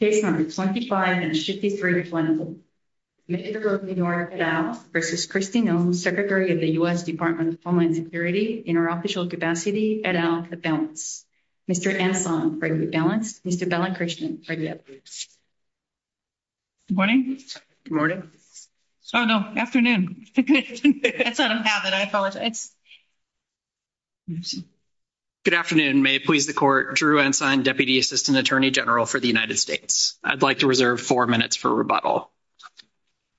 Secretary of the U.S. Department of Homeland Security, in her official capacity, et al, at the balance. Mr. Ensign, for exit balance. Mr. Balancristian, for exit balance. Good morning. Good morning. Oh, no, afternoon. Good afternoon. May it please the Court. Drew Ensign, Deputy Assistant Attorney General for the U.S. Department of Homeland Security. I'd like to reserve four minutes for rebuttal.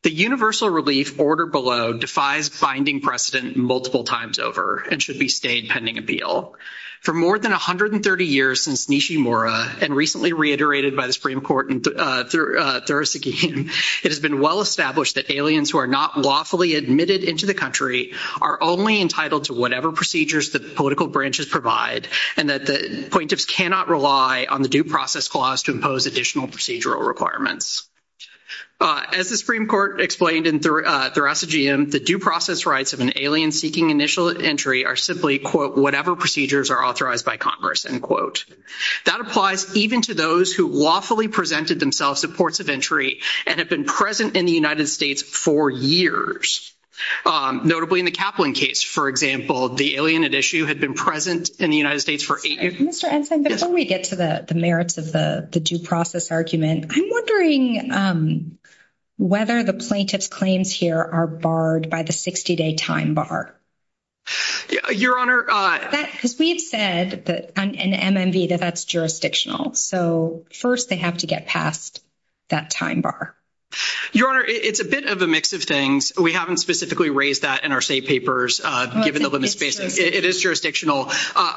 The universal relief order below defies binding precedent multiple times over and should be stayed pending appeal. For more than 130 years since Nishimura and recently reiterated by the Supreme Court in Thursday, it has been well established that aliens who are not lawfully admitted into the country are only entitled to whatever procedures that political branches provide. And that the plaintiffs cannot rely on the due process clause to impose additional procedural requirements. As the Supreme Court explained in Thursday, the due process rights of an alien seeking initial entry are simply, quote, whatever procedures are authorized by Congress, end quote. That applies even to those who lawfully presented themselves to ports of entry and have been present in the United States for years. Notably, in the Kaplan case, for example, the alien at issue had been present in the United States for eight years. Mr. Ensign, before we get to the merits of the due process argument, I'm wondering whether the plaintiff's claims here are barred by the 60-day time bar. Your Honor. Because we've said that in MMV that that's jurisdictional. So, first, they have to get past that time bar. Your Honor, it's a bit of a mix of things. We haven't specifically raised that in our state papers. It is jurisdictional.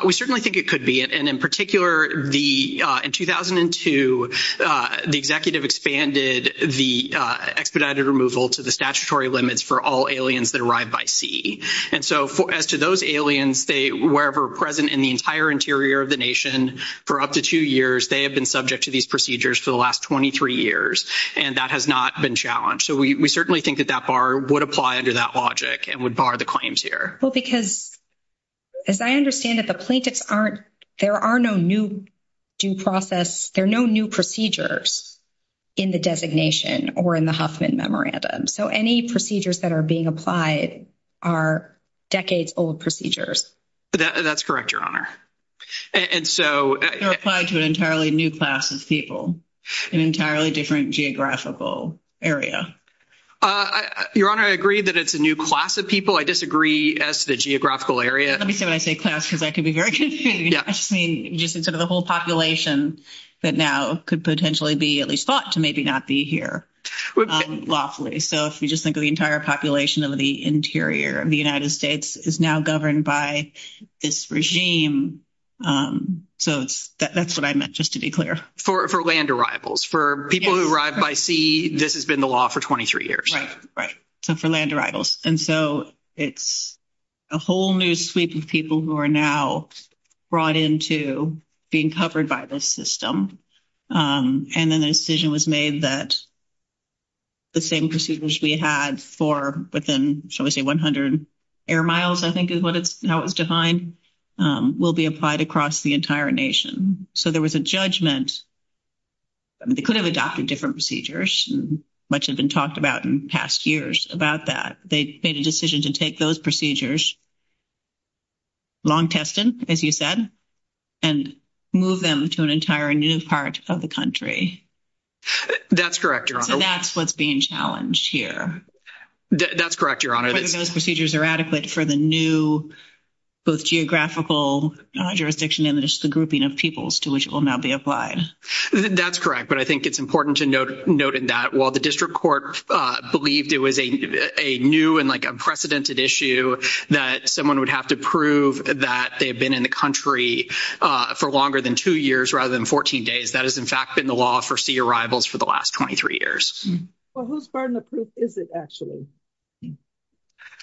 We certainly think it could be. And in particular, in 2002, the executive expanded the expedited removal to the statutory limits for all aliens that arrive by sea. And so, as to those aliens, wherever present in the entire interior of the nation for up to two years, they have been subject to these procedures for the last 23 years. And that has not been challenged. So, we certainly think that that bar would apply under that logic and would bar the claims here. Well, because, as I understand it, the plaintiffs aren't, there are no new due process, there are no new procedures in the designation or in the Huffman Memorandum. So, any procedures that are being applied are decades-old procedures. That's correct, Your Honor. They're applied to an entirely new class of people, an entirely different geographical area. Your Honor, I agree that it's a new class of people. I disagree as to the geographical area. Let me say when I say class, because that could be very confusing. I just mean just sort of the whole population that now could potentially be at least thought to maybe not be here lawfully. So, if you just think of the entire population of the interior of the United States is now governed by this regime. So, that's what I meant, just to be clear. For land arrivals. For people who arrive by sea, this has been the law for 23 years. Right. So, for land arrivals. And so, it's a whole new suite of people who are now brought into being covered by this system. And then a decision was made that the same procedures we had for within, shall we say, 100 air miles, I think is how it was defined, will be applied across the entire nation. So, there was a judgment. They could have adopted different procedures. Much has been talked about in past years about that. They made a decision to take those procedures, long-tested, as you said, and move them to an entire new part of the country. That's correct, Your Honor. So, that's what's being challenged here. That's correct, Your Honor. Whether those procedures are adequate for the new, both geographical jurisdiction and just the grouping of peoples to which it will now be applied. That's correct, but I think it's important to note in that while the district court believed it was a new and unprecedented issue, that someone would have to prove that they've been in the country for longer than two years rather than 14 days, that has, in fact, been the law for sea arrivals for the last 23 years. Well, whose burden of proof is it, actually?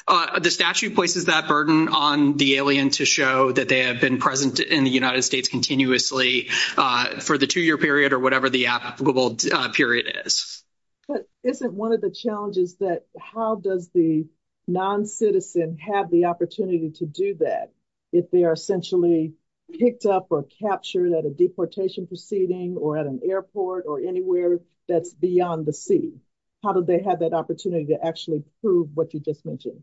The statute places that burden on the alien to show that they have been present in the United States continuously for the two-year period or whatever the applicable period is. But isn't one of the challenges that how does the non-citizen have the opportunity to do that if they are essentially picked up or captured at a deportation proceeding or at an airport or anywhere that's beyond the sea? How do they have that opportunity to actually prove what you just mentioned?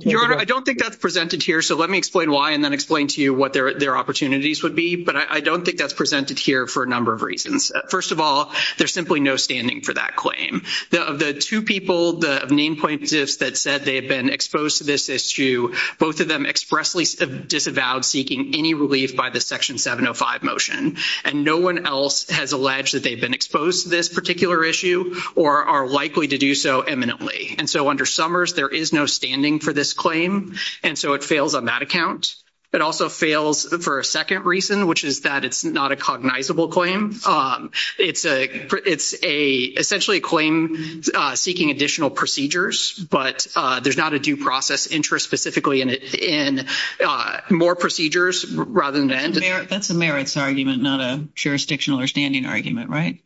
Your Honor, I don't think that's presented here, so let me explain why and then explain to you what their opportunities would be, but I don't think that's presented here for a number of reasons. First of all, there's simply no standing for that claim. Of the two people, the main plaintiffs that said they had been exposed to this issue, both of them expressly disavowed seeking any relief by the Section 705 motion, and no one else has alleged that they've been exposed to this particular issue or are likely to do so eminently. And so under Summers, there is no standing for this claim, and so it fails on that account. It also fails for a second reason, which is that it's not a cognizable claim. It's essentially a claim seeking additional procedures, but there's not a due process interest specifically in it in more procedures rather than that. That's a merits argument, not a jurisdictional or standing argument, right?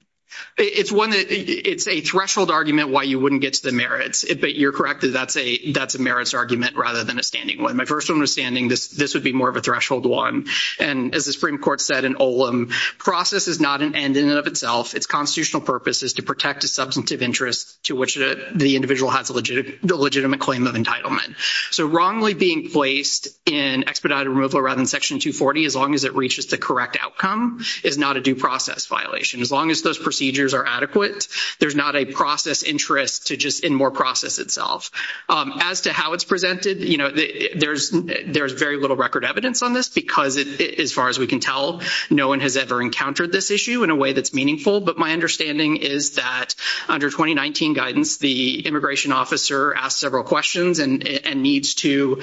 It's a threshold argument why you wouldn't get to the merits, but you're correct. That's a merits argument rather than a standing one. My personal understanding, this would be more of a threshold one. And as the Supreme Court said in Olam, process is not an end in and of itself. Its constitutional purpose is to protect a substantive interest to which the individual has a legitimate claim of entitlement. So wrongly being placed in expedited removal rather than Section 240, as long as it reaches the correct outcome, is not a due process violation. As long as those procedures are adequate, there's not a process interest in more process itself. As to how it's presented, you know, there's very little record evidence on this, because as far as we can tell, no one has ever encountered this issue in a way that's meaningful. But my understanding is that under 2019 guidance, the immigration officer asked several questions and needs to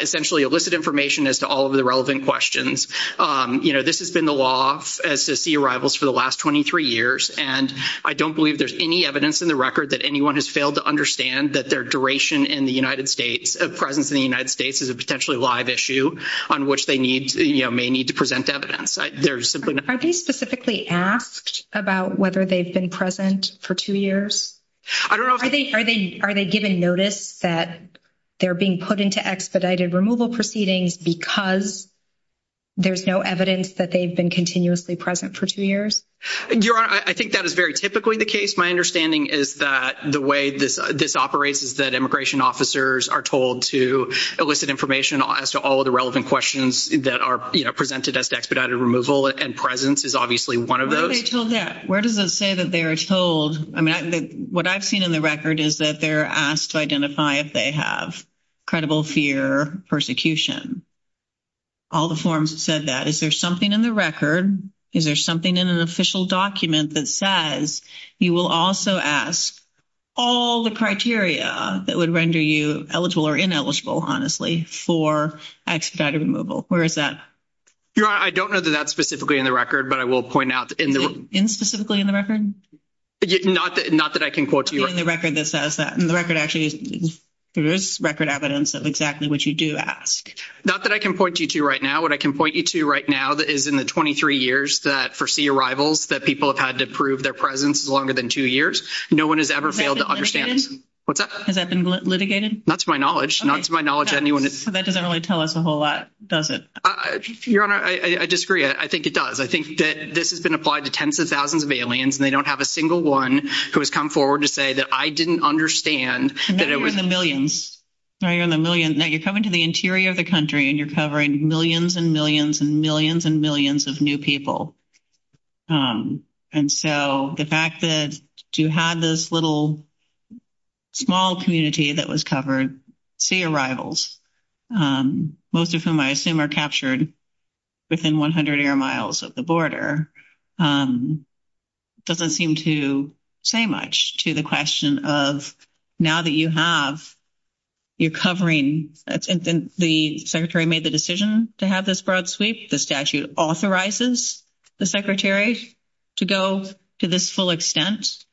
essentially elicit information as to all of the relevant questions. You know, this has been the law as to sea arrivals for the last 23 years, and I don't believe there's any evidence in the record that anyone has failed to understand that their duration in the United States, presence in the United States is a potentially live issue on which they need, you know, may need to present evidence. They're simply not... Are they specifically asked about whether they've been present for two years? I don't know if... Are they given notice that they're being put into expedited removal proceedings because there's no evidence that they've been continuously present for two years? Your Honor, I think that is very typically the case. My understanding is that the way this operates is that immigration officers are told to elicit information as to all of the relevant questions that are, you know, presented as to expedited removal and presence is obviously one of those. Where are they told that? Where does it say that they are told? I mean, what I've seen in the record is that they're asked to identify if they have credible fear, persecution. All the forms said that. Is there something in the record? Is there something in an official document that says you will also ask all the criteria that would render you eligible or ineligible, honestly, for expedited removal? Where is that? Your Honor, I don't know that that's specifically in the record, but I will point out in the... In specifically in the record? Not that I can quote to you. In the record that says that. In the record actually, there is record evidence of exactly what you do ask. Not that I can point you to right now. What I can point you to right now is in the 23 years that, for sea arrivals, that people have had to prove their presence longer than two years. No one has ever failed to understand... Has that been litigated? What's that? Has that been litigated? Not to my knowledge. Not to my knowledge of anyone... That doesn't really tell us a whole lot, does it? Your Honor, I disagree. I think it does. I think that this has been applied to tens of thousands of aliens, and they don't have a single one who has come forward to say that, I didn't understand that it was... Now you're in the millions. Now you're in the millions. Now you're in the millions and millions and millions and millions of new people. And so the fact that you have this little small community that was covered, sea arrivals, most of whom I assume are captured within 100 air miles of the border, doesn't seem to say much to the question of now that you have, you're covering... The Secretary made the decision to have this broad sweep. The statute authorizes the Secretary to go to this full extent,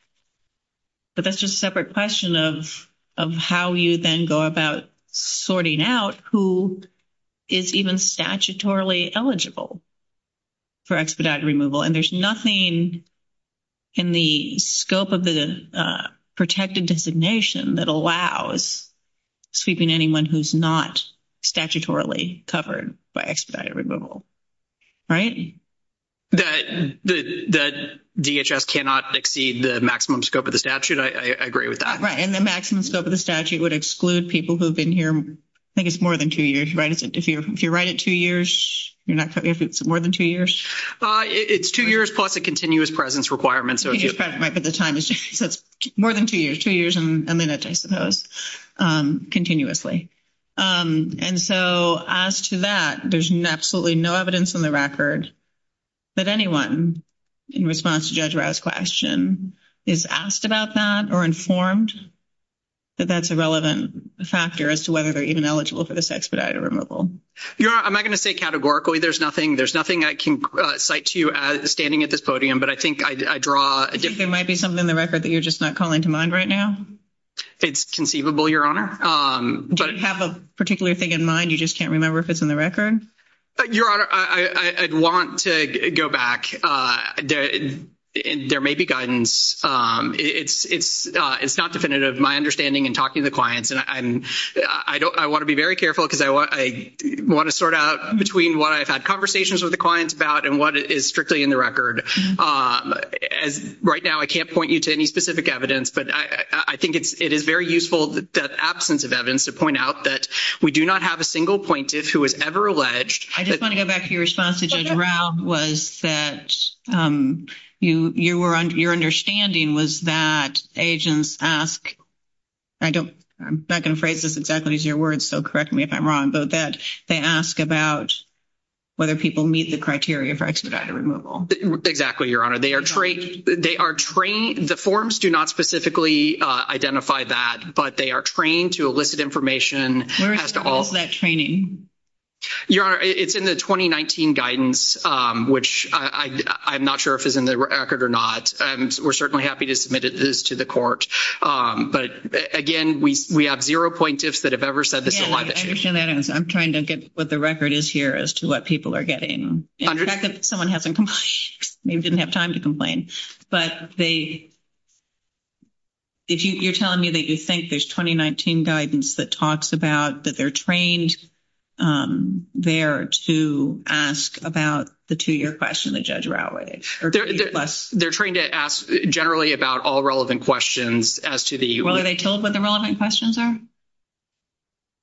but that's just a separate question of how you then go about sorting out who is even statutorily eligible for expedited removal. And there's nothing in the scope of the protected designation that allows sweeping anyone who's not statutorily covered by expedited removal. Right? The DHS cannot exceed the maximum scope of the statute. I agree with that. Right. And the maximum scope of the statute would exclude people who have been here, I think it's more than two years, right? If you're right at two years, you're not covering... If it's more than two years? It's two years plus a continuous presence requirement. Continuous presence, right, but the time is... More than two years, two years and a minute, I suppose, continuously. And so as to that, there's absolutely no evidence on the record that anyone in response to Judge Rye's question is asked about that or informed that that's a relevant factor as to whether they're even eligible for this expedited removal. Your Honor, I'm not going to say categorically there's nothing. There's nothing that can cite you as standing at this podium, but I think I draw... Do you think there might be something in the record that you're just not calling to mind right now? It's conceivable, Your Honor. Do you have a particular thing in mind, you just can't remember if it's in the record? Your Honor, I'd want to go back. There may be guidance. It's not definitive. My understanding in talking to the clients, and I want to be very careful because I want to sort out between what I've had conversations with the clients about and what is strictly in the record. Right now, I can't point you to any specific evidence, but I think it is very useful that absence of evidence to point out that we do not have a single plaintiff who was ever alleged... I just want to go back to your response, Judge Rye, was that your understanding was that agents ask... I'm not going to phrase this exactly as your words, so correct me if I'm wrong, but that they ask about whether people meet the criteria for expedited removal. Exactly, Your Honor. They are trained... The forms do not specifically identify that, but they are trained to elicit information as to all... Where is that training? Your Honor, it's in the 2019 guidance, which I'm not sure if it's in the record or not. We're certainly happy to submit it to the court. But, again, we have zero plaintiffs that have ever said... I'm trying to get what the record is here as to what people are getting. In fact, someone hasn't complained. They didn't have time to complain. But they... You're telling me that you think there's 2019 guidance that talks about that they're trained there to ask about the two-year question that Judge Rye... They're trained to ask generally about all relevant questions as to the... Well, are they told what the relevant questions are?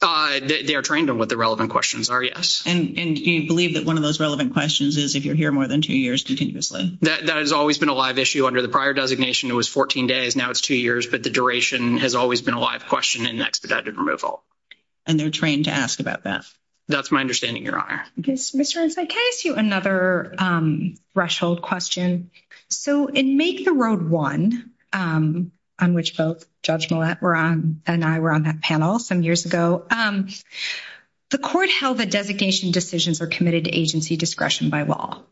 They are trained on what the relevant questions are, yes. And do you believe that one of those relevant questions is if you're here more than two years continuously? That has always been a live issue. Under the prior designation, it was 14 days. Now it's two years. But the duration has always been a live question in expedited removal. And they're trained to ask about that? That's my understanding, Your Honor. Ms. Jones, can I ask you another Rushfield question? So in Make the Road One, on which Judge Millett and I were on that panel some years ago, the court held that designation decisions were committed to agency discretion by law.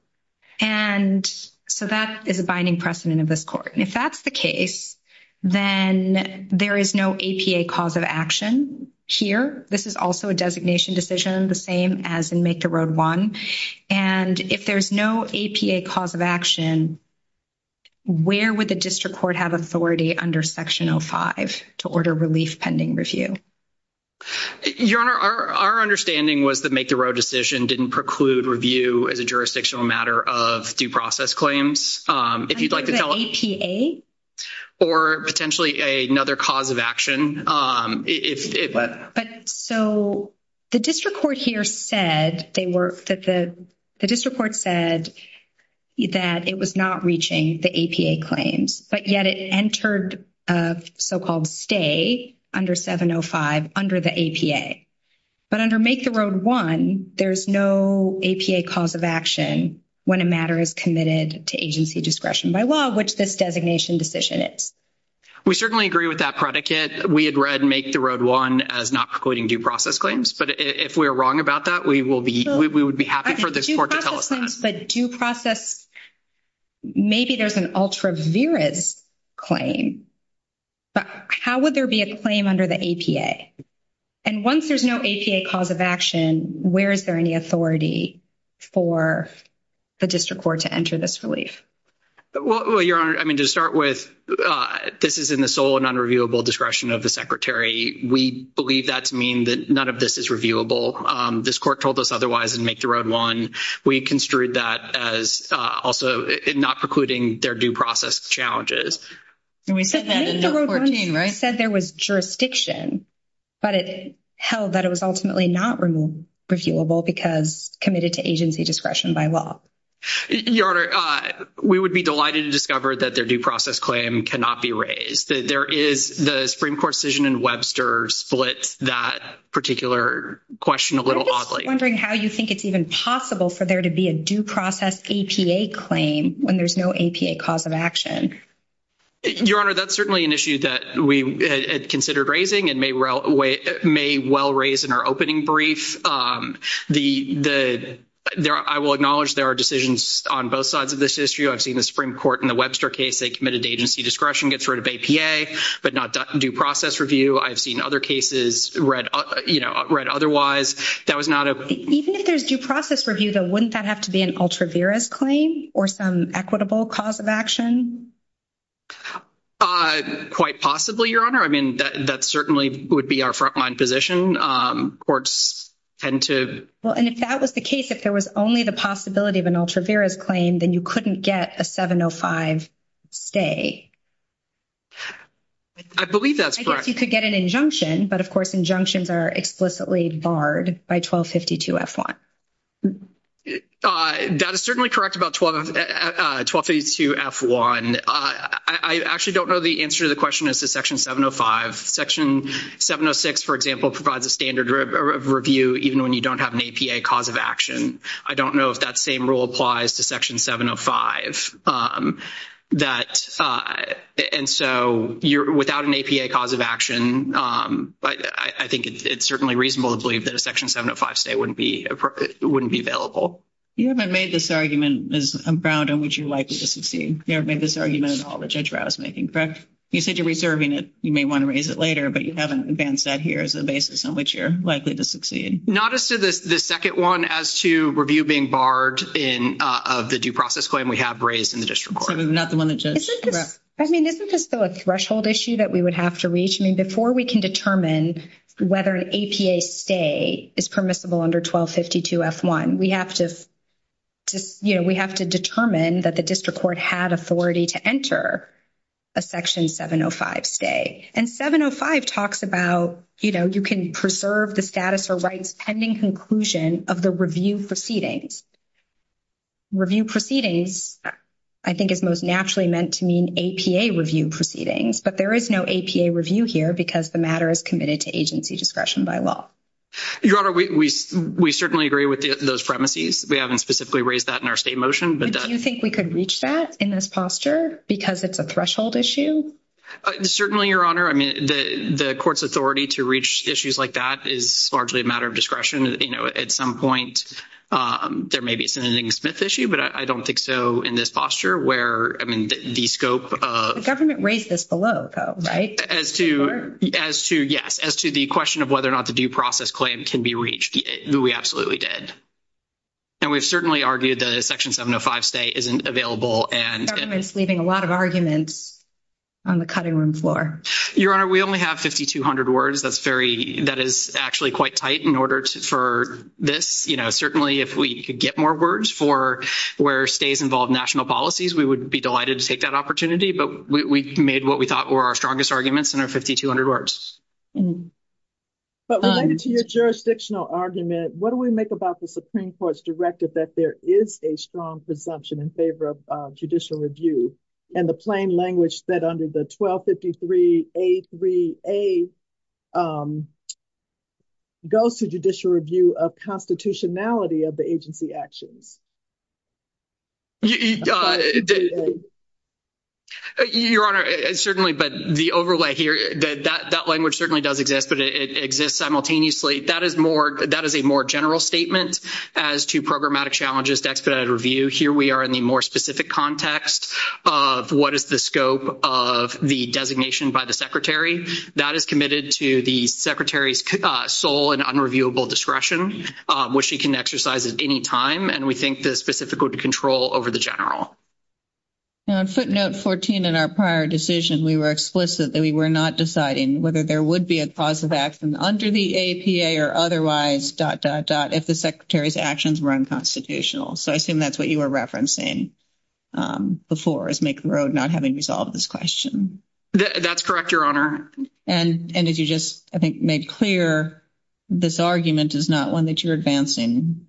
And so that is a binding precedent of this court. And if that's the case, then there is no APA cause of action here. This is also a designation decision, the same as in Make the Road One. And if there's no APA cause of action, where would the district court have authority under Section 05 to order relief pending review? Your Honor, our understanding was that Make the Road decision didn't preclude review as a jurisdictional matter of due process claims. If you'd like to tell us... I'm talking about APA? Or potentially another cause of action. But so the district court here said they were... The district court said that it was not reaching the APA claims. But yet it entered a so-called stay under 705 under the APA. But under Make the Road One, there's no APA cause of action when a matter is committed to agency discretion by law, which this designation decision is. We certainly agree with that predicate. We had read Make the Road One as not precluding due process claims. But if we're wrong about that, we would be happy for this court to help. But due process, maybe there's an ultra-virus claim. But how would there be a claim under the APA? And once there's no APA cause of action, where is there any authority for the district court to enter this relief? Well, Your Honor, I mean, to start with, this is in the sole and unreviewable discretion of the Secretary. We believe that to mean that none of this is reviewable. This court told us otherwise in Make the Road One. We construed that as also not precluding their due process challenges. And we said that in No. 14, right? Make the Road One said there was jurisdiction. But it held that it was ultimately not reviewable because committed to agency discretion by law. Your Honor, we would be delighted to discover that their due process claim cannot be raised. There is the Supreme Court decision in Webster split that particular question a little oddly. I'm just wondering how you think it's even possible for there to be a due process APA claim when there's no APA cause of action. Your Honor, that's certainly an issue that we had considered raising and may well raise in our opening brief. I will acknowledge there are decisions on both sides of this issue. I've seen the Supreme Court in the Webster case, they committed to agency discretion, get rid of APA, but not that due process review. I've seen other cases read otherwise. Even if there's due process review, then wouldn't that have to be an ultra-virus claim or some equitable cause of action? Quite possibly, Your Honor. I mean, that certainly would be our front-line position. Courts tend to... Well, and if that was the case, if there was only the possibility of an ultra-virus claim, then you couldn't get a 705 stay. I believe that's correct. I guess you could get an injunction, but of course injunctions are explicitly barred by 1252F1. That is certainly correct about 1252F1. I actually don't know the answer to the question as to Section 705. Section 706, for example, provides a standard review even when you don't have an APA cause of action. I don't know if that same rule applies to Section 705. And so without an APA cause of action, I think it's certainly reasonable to believe that a Section 705 stay wouldn't be available. You haven't made this argument as a ground on which you're likely to succeed. You haven't made this argument in all the judge browsemaking, correct? You said you're reserving it. You may want to raise it later, but you haven't advanced that here as a basis on which you're likely to succeed. Not as to the second one, as to review being barred of the due process claim, we have raised in the district court. I mean, not the one that judge brought. I mean, this is still a threshold issue that we would have to reach. I mean, before we can determine whether an APA stay is permissible under 1252F1, we have to just, you know, we have to determine that the district court had authority to enter a Section 705 stay. And 705 talks about, you know, you can preserve the status or rights pending conclusion of the review proceedings. Review proceedings, I think it's most naturally meant to mean APA review proceedings, but there is no APA review here because the matter is committed to agency discretion by law. Your Honor, we certainly agree with those premises. We haven't specifically raised that in our state motion, but that's... Do you think we could reach that in this posture because it's a threshold issue? Certainly, Your Honor. I mean, the court's authority to reach issues like that is largely a matter of discretion, and, you know, at some point, there may be a Senator Ding-Smith issue, but I don't think so in this posture where, I mean, the scope of... The government raised this below, though, right? As to, yes, as to the question of whether or not the due process claim can be reached. We absolutely did. And we've certainly argued that a Section 705 stay isn't available and... Government's leaving a lot of arguments on the cutting room floor. Your Honor, we only have 5,200 words. That's very... In order for this, you know, certainly if we could get more words for where stays involve national policies, we would be delighted to take that opportunity, but we made what we thought were our strongest arguments in our 5,200 words. But related to your jurisdictional argument, what do we make about the Supreme Court's directive that there is a strong presumption in favor of judicial review and the plain language said under the 1253A3A goes to judicial review of constitutionality of the agency action? Your Honor, certainly, but the overlay here, that language certainly does exist, but it exists simultaneously. That is a more general statement as to programmatic challenges to expedited review. Here we are in the more specific context of what is the scope of the designation by the Secretary. That is committed to the Secretary's sole and unreviewable discretion, which she can exercise at any time, and we think this is difficult to control over the general. And on footnote 14 in our prior decision, we were explicit that we were not deciding whether there would be a causative action under the APA or otherwise, dot, dot, dot, if the Secretary's actions were unconstitutional. So I assume that's what you were referencing before as making the road not having resolved this question. That's correct, Your Honor. And as you just, I think, made clear, this argument is not one that you're advancing.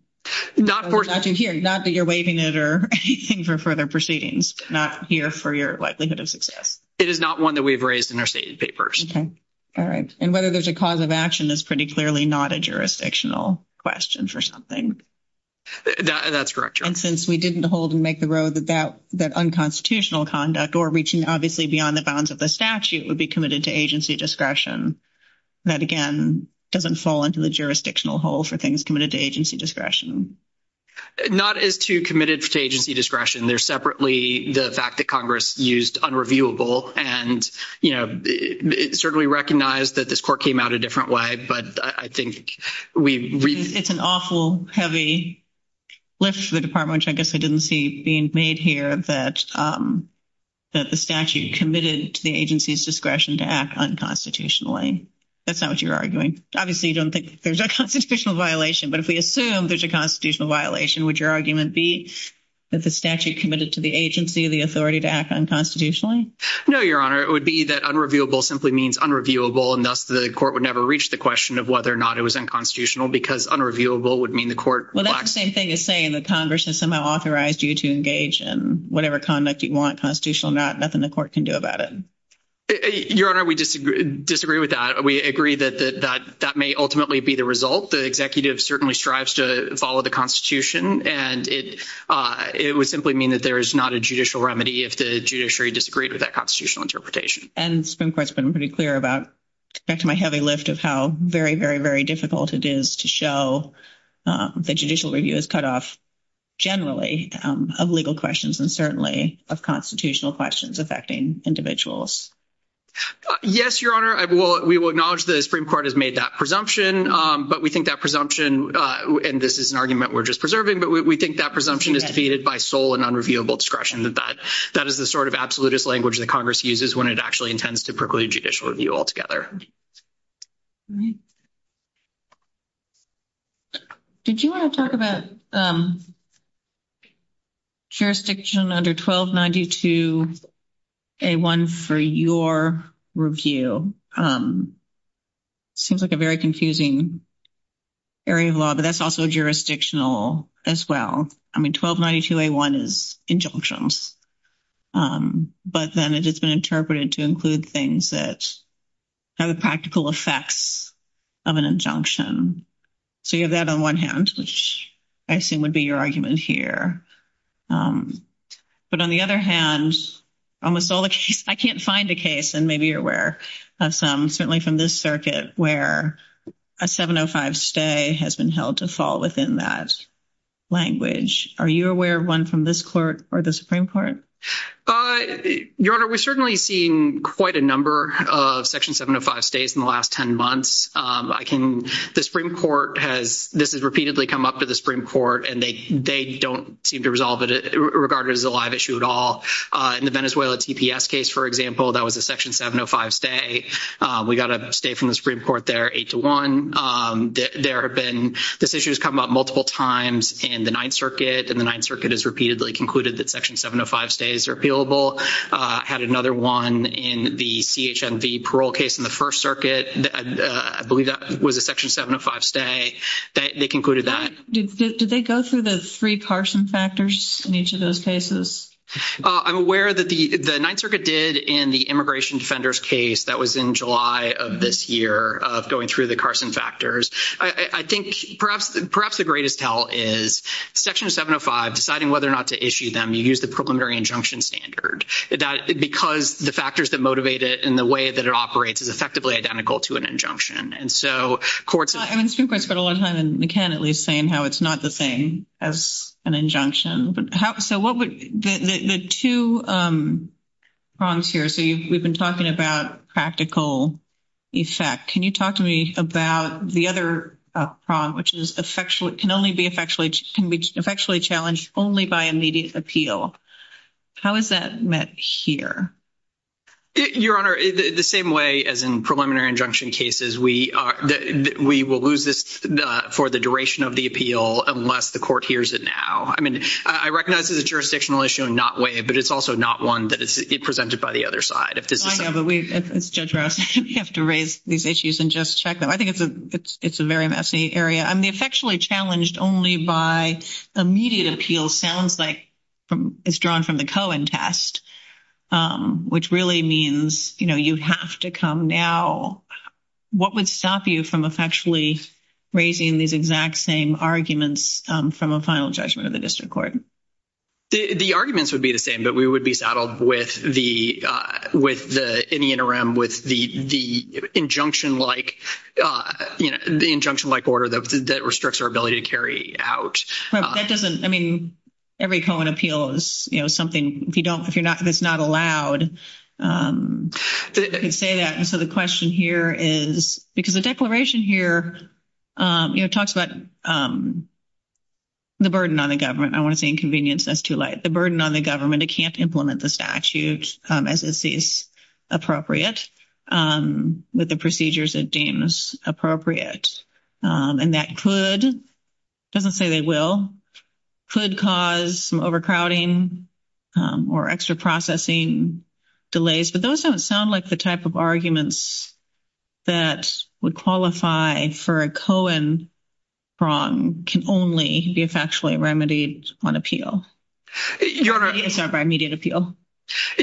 Not that you're waiving it or anything for further proceedings, not here for your likelihood of success. It is not one that we've raised in our stated papers. Okay. All right. And whether there's a causative action is pretty clearly not a jurisdictional question for something. That's correct, Your Honor. And since we didn't hold and make the road about that unconstitutional conduct or reaching obviously beyond the bounds of the statute would be committed to agency discretion, that, again, doesn't fall into the jurisdictional hole for things committed to agency discretion. Not as to committed to agency discretion. There's separately the fact that Congress used unreviewable and, you know, certainly recognize that this court came out a different way, but I think we've... It's an awful heavy lift for the Department, which I guess I didn't see being made here, that the statute committed to the agency's discretion to act unconstitutionally. That's not what you're arguing. Obviously, you don't think there's a constitutional violation, but if we assume there's a constitutional violation, would your argument be that the statute committed to the agency the authority to act unconstitutionally? No, Your Honor. It would be that unreviewable simply means unreviewable, and thus the court would never reach the question of whether or not it was unconstitutional because unreviewable would mean the court... Well, that's the same thing as saying the Congress has somehow authorized you to engage in whatever conduct you want, constitutional or not, nothing the court can do about it. Your Honor, we disagree with that. We agree that that may ultimately be the result. The executive certainly strives to follow the Constitution, and it would simply mean that there is not a judicial remedy if the judiciary disagreed with that constitutional interpretation. And Supreme Court's been pretty clear about, back to my heavy lift of how very, very, very difficult it is to show that judicial review is cut off generally of legal questions and certainly of constitutional questions affecting individuals. Yes, Your Honor. We will acknowledge that the Supreme Court has made that presumption, but we think that presumption, and this is an argument we're just preserving, but we think that presumption is defeated by sole and unreviewable discretion. That is the sort of absolutist language that Congress uses when it actually intends to percolate judicial review altogether. All right. Did you want to talk about jurisdiction under 1292A1 for your review? It seems like a very confusing area of law, but that's also jurisdictional as well. I mean, 1292A1 is injunctions, but then it's just been interpreted to include things that have the practical effects of an injunction. So you have that on one hand, which I assume would be your argument here. But on the other hand, I can't find a case, and maybe you're aware of some, certainly from this circuit, where a 705 stay has been held to fall within that language. Are you aware of one from this court or the Supreme Court? Your Honor, we've certainly seen quite a number of Section 705 stays in the last 10 months. The Supreme Court has, this has repeatedly come up to the Supreme Court, and they don't seem to resolve it, regard it as a live issue at all. In the Venezuela TPS case, for example, that was a Section 705 stay. We got a stay from the Supreme Court there, 8-1. There have been, this issue has come up multiple times in the Ninth Circuit, and the Ninth Circuit has repeatedly concluded that Section 705 stays are appealable. Had another one in the CHMD parole case in the First Circuit. I believe that was a Section 705 stay. They concluded that. Did they go through the three Carson factors in each of those cases? I'm aware that the Ninth Circuit did in the Immigration Defenders case. That was in July of this year, going through the Carson factors. I think perhaps the greatest tell is Section 705, deciding whether or not to issue them, you use the preliminary injunction standard. That's because the factors that motivate it and the way that it operates is effectively identical to an injunction. And so courts- I mean, Supreme Court's put a lot of time in the can, at least, saying how it's not the same as an injunction. The two prongs here, so we've been talking about practical effect. Can you talk to me about the other prong, which can only be effectually challenged only by immediate appeal? How is that met here? Your Honor, the same way as in preliminary injunction cases, we will lose this for the duration of the appeal unless the court hears it now. I mean, I recognize it's a jurisdictional issue in that way, but it's also not one that is presented by the other side. I know, but we have to raise these issues and just check them. I think it's a very messy area. I mean, effectually challenged only by immediate appeal sounds like it's drawn from the Cohen test, which really means, you know, you have to come now. What would stop you from effectually raising these exact same arguments from a final judgment of the district court? The arguments would be the same, but we would be saddled with the- in the interim with the injunction-like order that restricts our ability to carry out. That doesn't- I mean, every Cohen appeal is, you know, something- if it's not allowed, you can say that. And so the question here is- because the declaration here, you know, talks about the burden on the government. I don't want to say inconvenience. That's too light. The burden on the government. It can't implement the statute as it sees appropriate with the procedures it deems appropriate. And that could- it doesn't say they will- could cause some overcrowding or extra processing delays, but those don't sound like the type of arguments that would qualify for a Cohen wrong can only be effectually remedied on appeal. It's not by immediate appeal.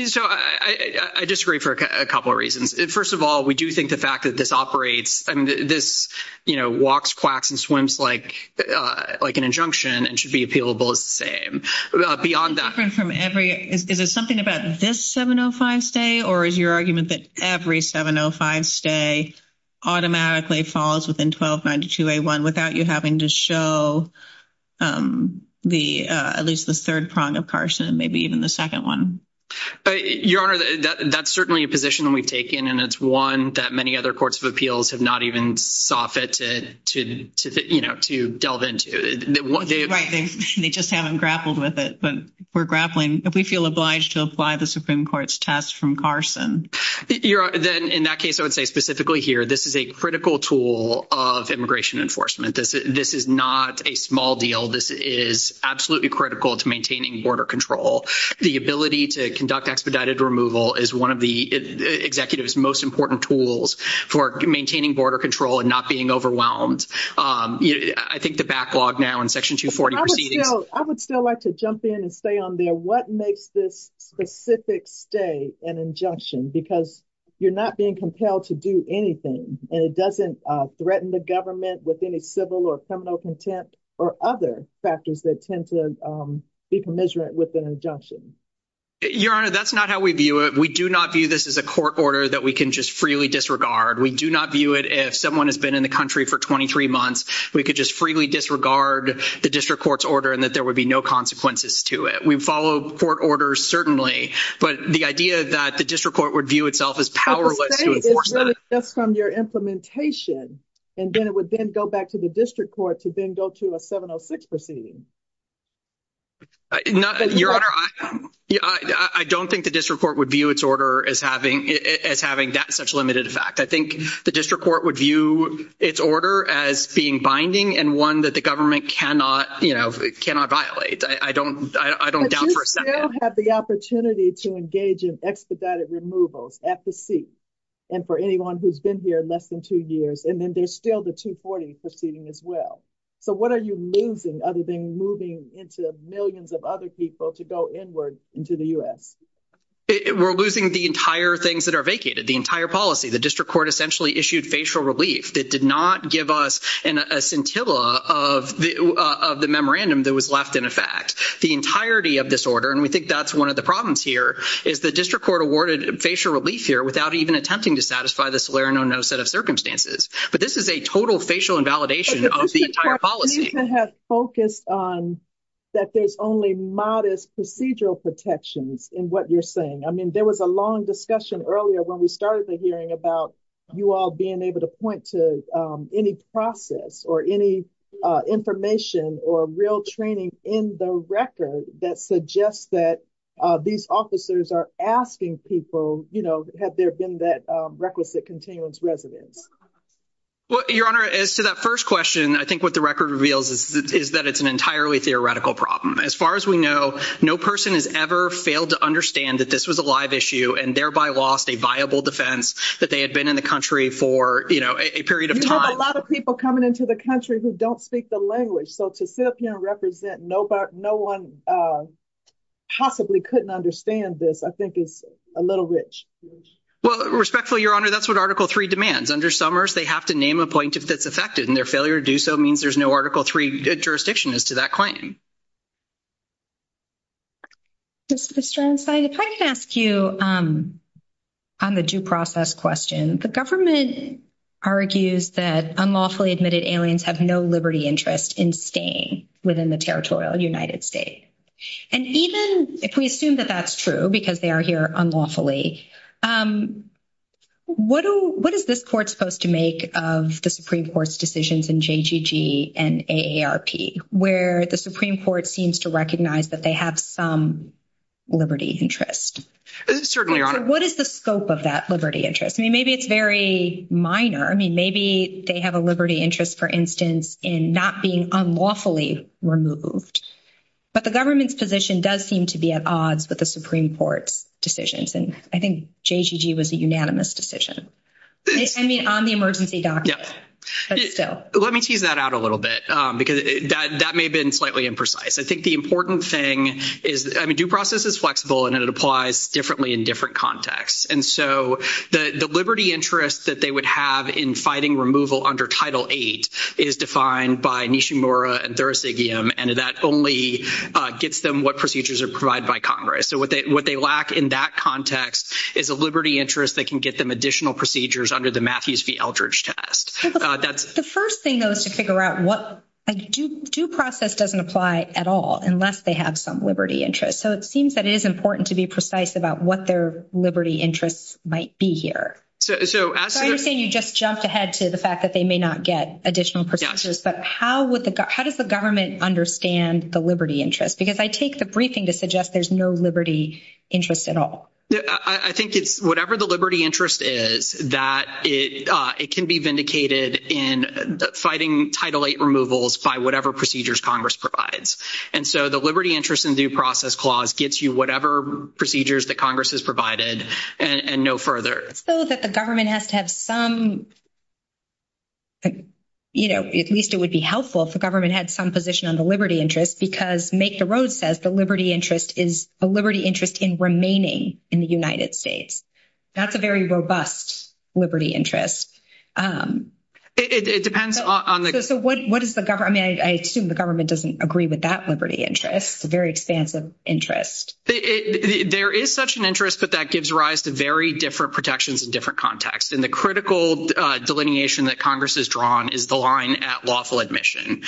So I disagree for a couple of reasons. First of all, we do think the fact that this operates- I mean, this, you know, walks, quacks, and swims like an injunction and should be appealable the same. Beyond that- Is there something about this 705 stay, or is your argument that every 705 stay automatically falls within 1292A1 without you having to show the- at least the third prong of Carson, maybe even the second one? Your Honor, that's certainly a position we've taken, and it's one that many other courts of appeals have not even soffited to, you know, to delve into. Right. They just haven't grappled with it. But we're grappling if we feel obliged to apply the Supreme Court's test from Carson. Your Honor, then in that case, I would say specifically here, this is a critical tool of immigration enforcement. This is not a small deal. This is absolutely critical to maintaining border control. The ability to conduct expedited removal is one of the executive's most important tools for maintaining border control and not being overwhelmed. I think the backlog now in Section 240- I would still like to jump in and say on there, what makes this specific stay an injunction? Because you're not being compelled to do anything, and it doesn't threaten the government with any civil or criminal contempt or other factors that tend to be commiserate with an injunction. Your Honor, that's not how we view it. We do not view this as a court order that we can just freely disregard. We do not view it as someone has been in the country for 23 months. We could just freely disregard the district court's order and that there would be no consequences to it. We follow court orders certainly, but the idea that the district court would view itself as powerless to enforce that- I would say it's limited just from your implementation, and then it would then go back to the district court to then go to a 706 proceeding. Your Honor, I don't think the district court would view its order as having that such limited effect. I think the district court would view its order as being binding and one that the government cannot violate. I don't doubt for a second- But you still have the opportunity to engage in expedited removal at the seat, and for anyone who's been here less than two years, and then there's still the 240 proceeding as well. So what are you losing other than moving into millions of other people to go inward into the U.S.? We're losing the entire things that are vacated, the entire policy. The district court essentially issued facial relief that did not give us a scintilla of the memorandum that was left in effect. The entirety of this order, and we think that's one of the problems here, is the district court awarded facial relief here without even attempting to satisfy the Soler no-no set of circumstances. But this is a total facial invalidation of the entire policy. The district court has focused on that there's only modest procedural protections in what you're saying. I mean, there was a long discussion earlier when we started the hearing about you all being able to point to any process or any information or real training in the record that suggests that these officers are asking people, you know, have there been that requisite continuance resident? Well, Your Honor, as to that first question, I think what the record reveals is that it's an entirely theoretical problem. As far as we know, no person has ever failed to understand that this was a live issue and thereby lost a viable defense that they had been in the country for, you know, a period of time. You have a lot of people coming into the country who don't speak the language. So to sit up here and represent no one possibly couldn't understand this, I think is a little rich. Well, respectfully, Your Honor, that's what Article III demands. Under Summers, they have to name an appointment that's affected, and their failure to do so means there's no Article III jurisdiction as to that claim. Ms. Jones, if I can ask you on the due process question, the government argues that unlawfully admitted aliens have no liberty interest in staying within the territorial United States. And even if we assume that that's true because they are here unlawfully, what is this court supposed to make of the Supreme Court's decisions in JGG and AARP where the Supreme Court seems to recognize that they have some liberty interest? Certainly, Your Honor. What is the scope of that liberty interest? I mean, maybe it's very minor. I mean, maybe they have a liberty interest, for instance, in not being unlawfully removed. But the government's position does seem to be at odds with the Supreme Court's decisions. And I think JGG was a unanimous decision. I mean, on the emergency documents. Yes. Let me tease that out a little bit because that may have been slightly imprecise. I think the important thing is, I mean, due process is flexible, and it applies differently in different contexts. And so the liberty interest that they would have in fighting removal under Title VIII is defined by Nishimura and Thurasigiyam, and that only gets them what procedures are provided by Congress. So what they lack in that context is a liberty interest that can get them additional procedures under the Matthews v. Eldridge test. The first thing, though, is to figure out what – due process doesn't apply at all unless they have some liberty interest. So it seems that it is important to be precise about what their liberty interests might be here. So I understand you just jumped ahead to the fact that they may not get additional procedures, but how does the government understand the liberty interest? Because I take the briefing to suggest there's no liberty interest at all. I think it's whatever the liberty interest is, that it can be vindicated in fighting Title VIII removals by whatever procedures Congress provides. And so the liberty interest in due process clause gets you whatever procedures that Congress has provided and no further. So that the government has to have some, you know, at least it would be helpful if the government had some position on the liberty interest because Make the Road says the liberty interest is a liberty interest in remaining in the United States. That's a very robust liberty interest. It depends on the – So what is the – I mean, I assume the government doesn't agree with that liberty interest, a very expansive interest. There is such an interest that that gives rise to very different protections in different contexts. And the critical delineation that Congress has drawn is the line at lawful admission.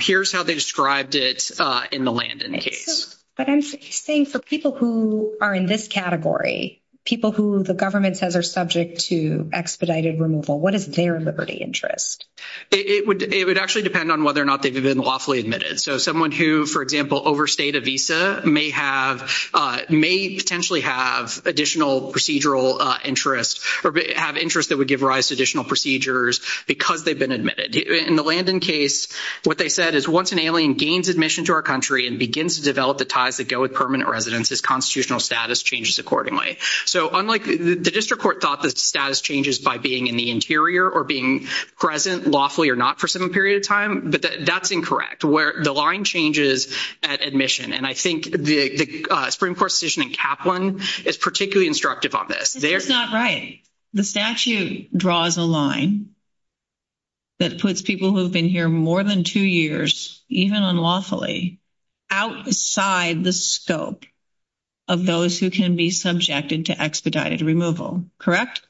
Here's how they described it in the Landon case. But I'm saying for people who are in this category, people who the government says are subject to expedited removal, what is their liberty interest? It would actually depend on whether or not they've been lawfully admitted. So someone who, for example, overstayed a visa may have – may potentially have additional procedural interest or have interest that would give rise to additional procedures because they've been admitted. In the Landon case, what they said is once an alien gains admission to our country and begins to develop the ties that go with permanent residence, his constitutional status changes accordingly. So unlike the district court thought that status changes by being in the interior or being present lawfully or not for some period of time, but that's incorrect where the line changes at admission. And I think the Supreme Court's decision in Kaplan is particularly instructive on this. That's not right. The statute draws a line that puts people who have been here more than two years, even unlawfully, outside the scope of those who can be subjected to expedited removal. Correct?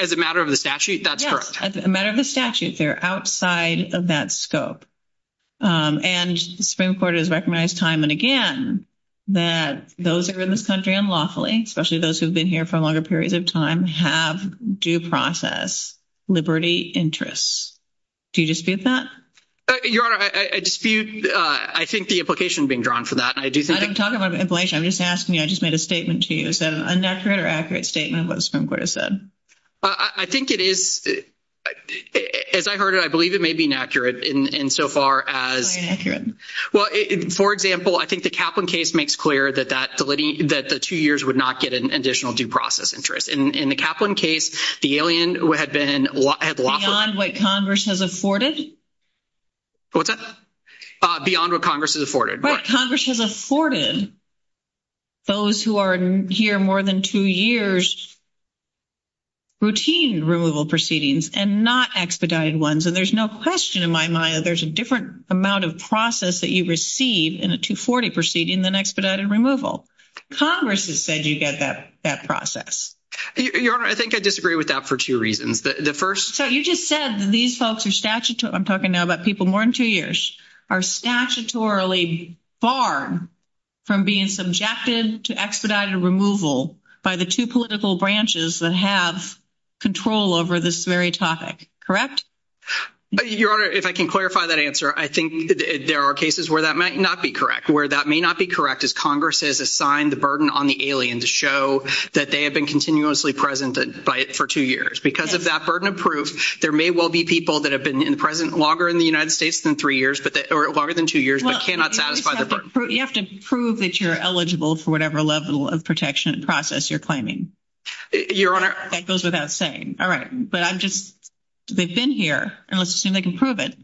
As a matter of the statute, that's correct. As a matter of the statute, they're outside of that scope. And the Supreme Court has recognized time and again that those who are in this country unlawfully, especially those who have been here for longer periods of time, have due process, liberty, interests. Do you dispute that? Your Honor, I dispute. I think the implication being drawn from that. I don't talk about implication. I'm just asking you. I just made a statement to you. Is that an inaccurate or accurate statement of what the Supreme Court has said? I think it is. As I heard it, I believe it may be inaccurate insofar as. Why inaccurate? Well, for example, I think the Kaplan case makes clear that the two years would not get an additional due process interest. In the Kaplan case, the alien would have been... Beyond what Congress has afforded? What's that? Beyond what Congress has afforded. What Congress has afforded, those who are here more than two years, routine removal proceedings and not expedited ones. And there's no question in my mind that there's a different amount of process that you receive in a 240 proceeding than expedited removal. Congress has said you get that process. Your Honor, I think I disagree with that for two reasons. The first... So you just said that these folks are statutorily... I'm talking now about people more than two years. Are statutorily barred from being subjected to expedited removal by the two political branches that have control over this very topic. Correct? Your Honor, if I can clarify that answer, I think there are cases where that might not be correct. Where that may not be correct is Congress has assigned the burden on the alien to show that they have been continuously present for two years. Because of that burden of proof, there may well be people that have been present longer in the United States than three years or longer than two years but cannot satisfy the burden. You have to prove that you're eligible for whatever level of protection and process you're claiming. Your Honor. That goes without saying. All right. But I'm just... They've been here. And let's assume they can prove it.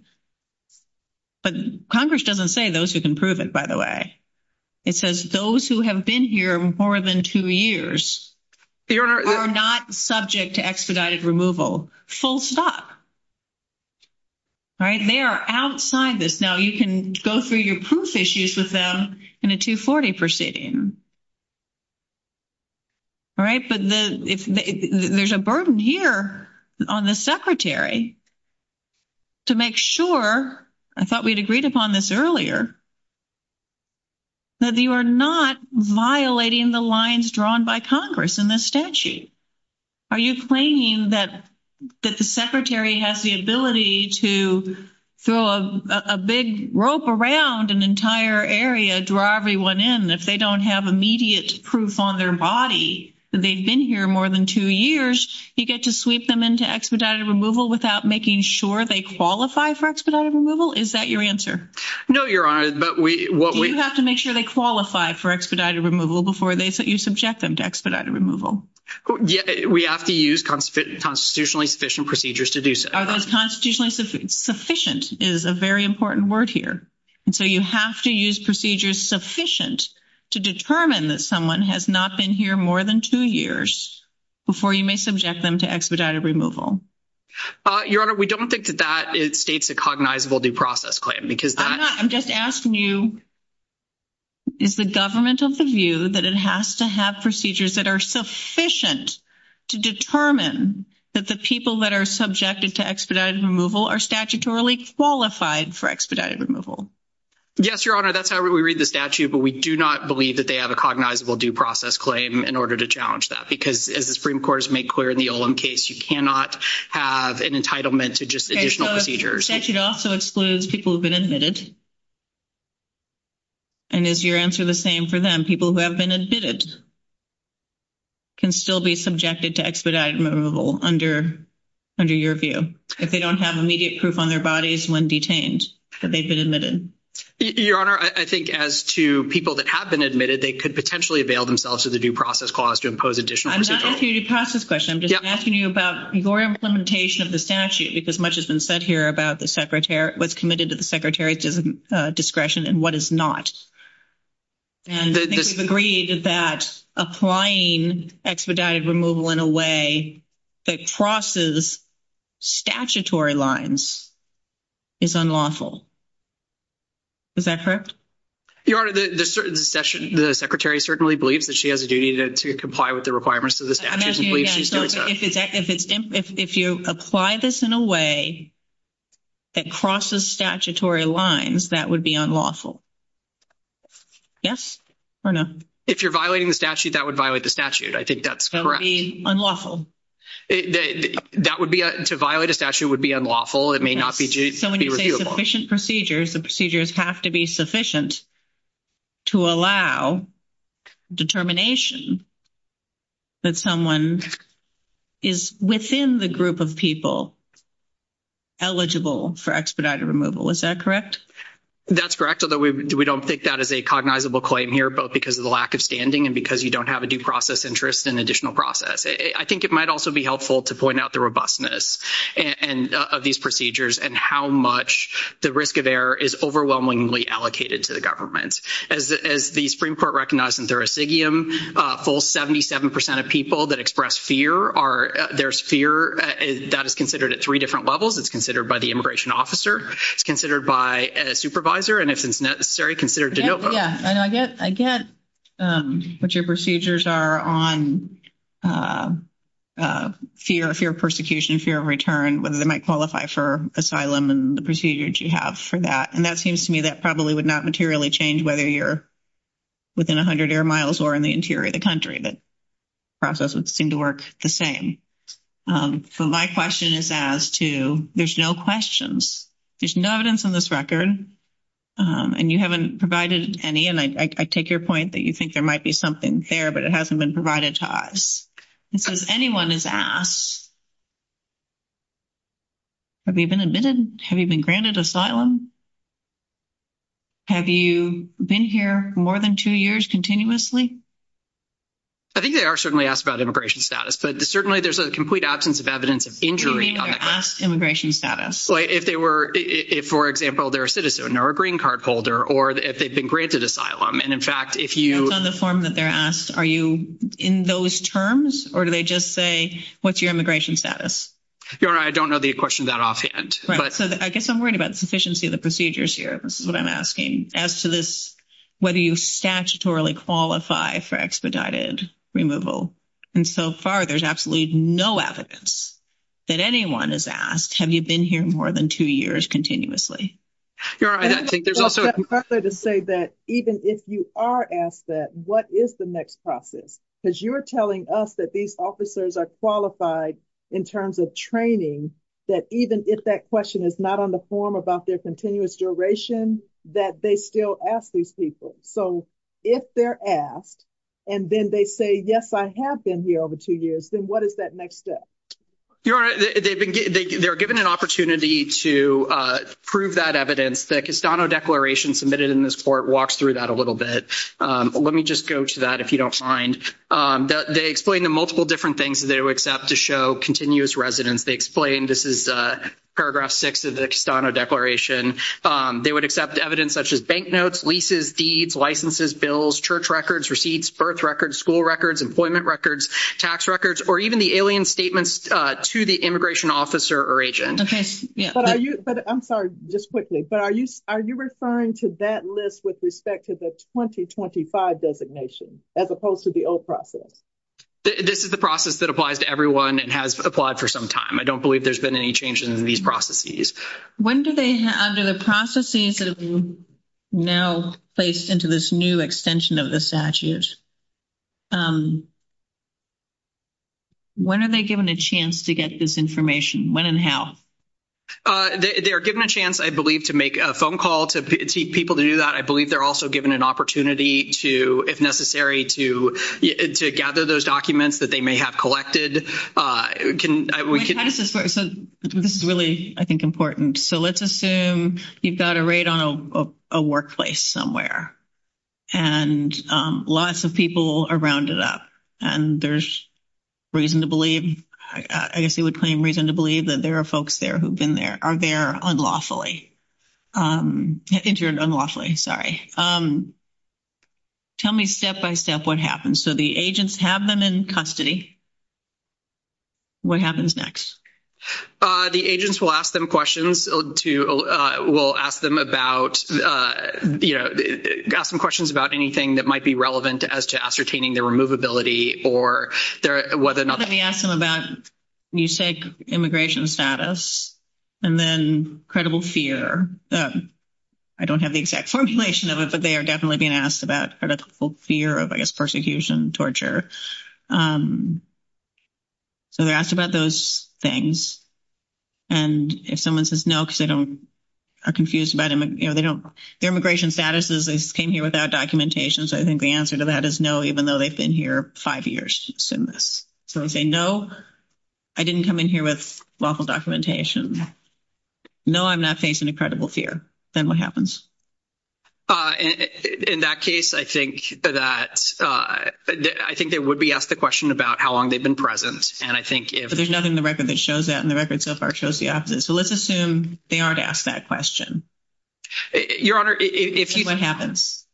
But Congress doesn't say those who can prove it, by the way. It says those who have been here more than two years. Your Honor. Are not subject to expedited removal. Full stop. All right. They are outside this. Now, you can go through your proof issues with them in a 240 proceeding. All right. But there's a burden here on the Secretary to make sure... I thought we'd agreed upon this earlier. That you are not violating the lines drawn by Congress in this statute. Are you claiming that the Secretary has the ability to throw a big rope around an entire area, draw everyone in. If they don't have immediate proof on their body that they've been here more than two years, you get to sweep them into expedited removal without making sure they qualify for expedited removal? Is that your answer? No, Your Honor. But what we... We have to use constitutionally sufficient procedures to do so. Constitutionally sufficient is a very important word here. And so you have to use procedures sufficient to determine that someone has not been here more than two years before you may subject them to expedited removal. Your Honor, we don't think that that states a cognizable due process claim. I'm just asking you, is the government of the view that it has to have procedures that are sufficient to determine that the people that are subjected to expedited removal are statutorily qualified for expedited removal? Yes, Your Honor. That's how we read the statute. But we do not believe that they have a cognizable due process claim in order to challenge that. Because as the Supreme Court has made clear in the Olim case, you cannot have an entitlement to just additional procedures. The statute also excludes people who have been admitted. And is your answer the same for them? People who have been admitted can still be subjected to expedited removal under your view if they don't have immediate proof on their bodies when detained that they've been admitted. Your Honor, I think as to people that have been admitted, they could potentially avail themselves of the due process clause to impose additional procedures. I'm not asking you a due process question. I'm just asking you about your implementation of the statute. As much has been said here about what's committed to the Secretary's discretion and what is not. And I think we've agreed that applying expedited removal in a way that crosses statutory lines is unlawful. Is that correct? Your Honor, the Secretary certainly believes that she has a duty to comply with the requirements of the statute. If you apply this in a way that crosses statutory lines, that would be unlawful. Yes or no? If you're violating the statute, that would violate the statute. I think that's correct. That would be unlawful. That would be, to violate a statute would be unlawful. It may not be repealable. So sufficient procedures, the procedures have to be sufficient to allow determination that someone is within the group of people eligible for expedited removal. Is that correct? That's correct, although we don't think that is a cognizable claim here, both because of the lack of standing and because you don't have a due process interest in additional process. I think it might also be helpful to point out the robustness of these procedures and how much the risk of error is overwhelmingly allocated to the government. As the Supreme Court recognized in Thurisigium, a full 77% of people that express fear are, there's fear, that is considered at three different levels. It's considered by the immigration officer. It's considered by a supervisor. And if it's necessary, considered de novo. I get what your procedures are on fear, fear of persecution, fear of return, whether they might qualify for asylum and the procedures you have for that. And that seems to me that probably would not materially change whether you're within 100 air miles or in the interior of the country, but processes seem to work the same. So my question is as to, there's no questions. There's no evidence on this record, and you haven't provided any, and I take your point that you think there might be something there, but it hasn't been provided to us. So if anyone is asked, have you been admitted? Have you been granted asylum? Have you been here more than two years continuously? I think they are certainly asked about immigration status, but certainly there's a complete absence of evidence of being here. If they were asked immigration status. If they were, for example, they're a citizen or a green card holder, or if they've been granted asylum. And in fact, if you. Based on the form that they're asked, are you in those terms, or do they just say, what's your immigration status? I don't know the question that offhand. I guess I'm worried about sufficiency of the procedures here. This is what I'm asking as to this, whether you statutorily qualify for expedited removal. And so far, there's absolutely no evidence that anyone is asked. Have you been here more than two years continuously? To say that, even if you are asked that, what is the next process? Because you're telling us that these officers are qualified in terms of training that even if that question is not on the form about their continuous duration that they still ask these people. So, if they're asked, and then they say, yes, I have been here over two years. Then what is that next step? They're given an opportunity to prove that evidence. The Castano Declaration submitted in this court walks through that a little bit. Let me just go to that if you don't mind. They explain the multiple different things that they would accept to show continuous residence. They explain this is paragraph 6 of the Castano Declaration. They would accept evidence such as bank notes, leases, deeds, licenses, bills, church records, receipts, birth records, school records, employment records, tax records, or even the alien statements to the immigration officer or agent. I'm sorry, just quickly. Are you referring to that list with respect to the 2025 designation as opposed to the old process? This is the process that applies to everyone and has applied for some time. I don't believe there's been any changes in these processes. When do they, under the processes that we now place into this new extension of the statute, when are they given a chance to get this information? When and how? They are given a chance, I believe, to make a phone call to see people to do that. I believe they're also given an opportunity to, if necessary, to gather those documents that they may have collected. This is really, I think, important. So let's assume you've got a raid on a workplace somewhere and lots of people are rounded up. And there's reason to believe, I guess you would claim reason to believe that there are folks there who've been there, are there unlawfully. Interfered unlawfully, sorry. Tell me step-by-step what happens. So the agents have them in custody. What happens next? The agents will ask them questions to, will ask them about, you know, ask them questions about anything that might be relevant as to ascertaining their removability or whether or not. So they ask them about, you said immigration status, and then credible fear. I don't have the exact formulation of it, but they are definitely being asked about critical fear of, I guess, persecution, torture. So they're asked about those things. And if someone says no because they don't, are confused about, you know, they don't, their immigration status is they came here without documentation. So I think the answer to that is no, even though they've been here five years. So if they say no, I didn't come in here with lawful documentation. No, I'm not facing a credible fear. Then what happens? In that case, I think that, I think they would be asked a question about how long they've been present. And I think if. But there's nothing in the record that shows that, and the record so far shows the opposite. So let's assume they aren't asked that question. Your Honor, if you. What happens?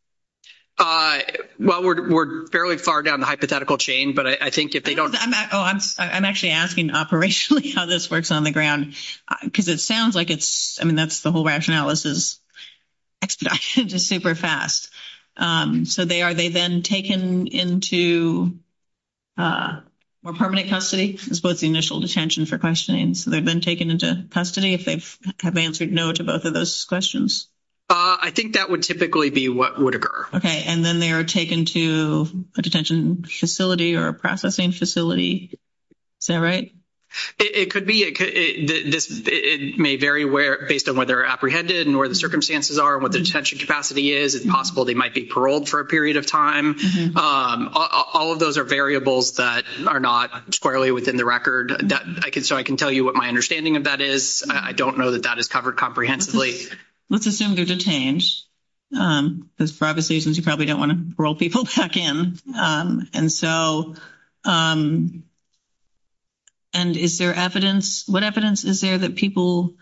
Well, we're fairly far down the hypothetical chain, but I think if they don't. I'm actually asking operationally how this works on the ground, because it sounds like it's, I mean, that's the whole rationales is super fast. So they are, they then taken into permanent custody. What's the initial detention for questioning? So they've been taken into custody if they have answered no to both of those questions. I think that would typically be what would occur. And then they are taken to a detention facility or a processing facility. Is that right? It could be. It may vary based on whether apprehended and where the circumstances are and what the detention capacity is. It's possible they might be paroled for a period of time. All of those are variables that are not squarely within the record. So I can tell you what my understanding of that is. I don't know that that is covered comprehensively. Let's assume they're detained. Because for obvious reasons, you probably don't want to parole people back in. And so, and is there evidence? What evidence is there that people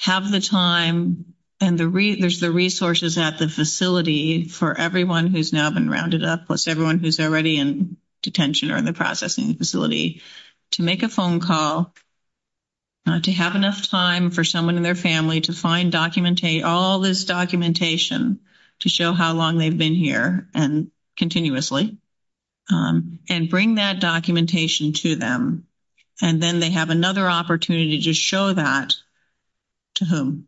have the time and there's the resources at the facility for everyone who's now been rounded up, plus everyone who's already in detention or in the processing facility to make a phone call? To have enough time for someone in their family to find all this documentation to show how long they've been here and continuously. And bring that documentation to them. And then they have another opportunity to show that to whom?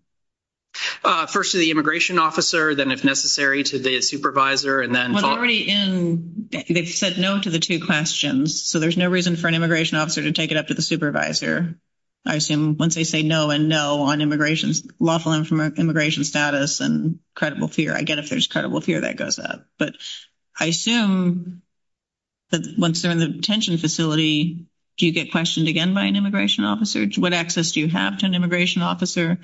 First to the immigration officer. Then, if necessary, to the supervisor. They said no to the two questions. So there's no reason for an immigration officer to take it up to the supervisor. I assume once they say no and no on immigration, lawful immigration status and credible fear. I get if there's credible fear that goes up. But I assume that once they're in the detention facility, do you get questioned again by an immigration officer? What access do you have to an immigration officer?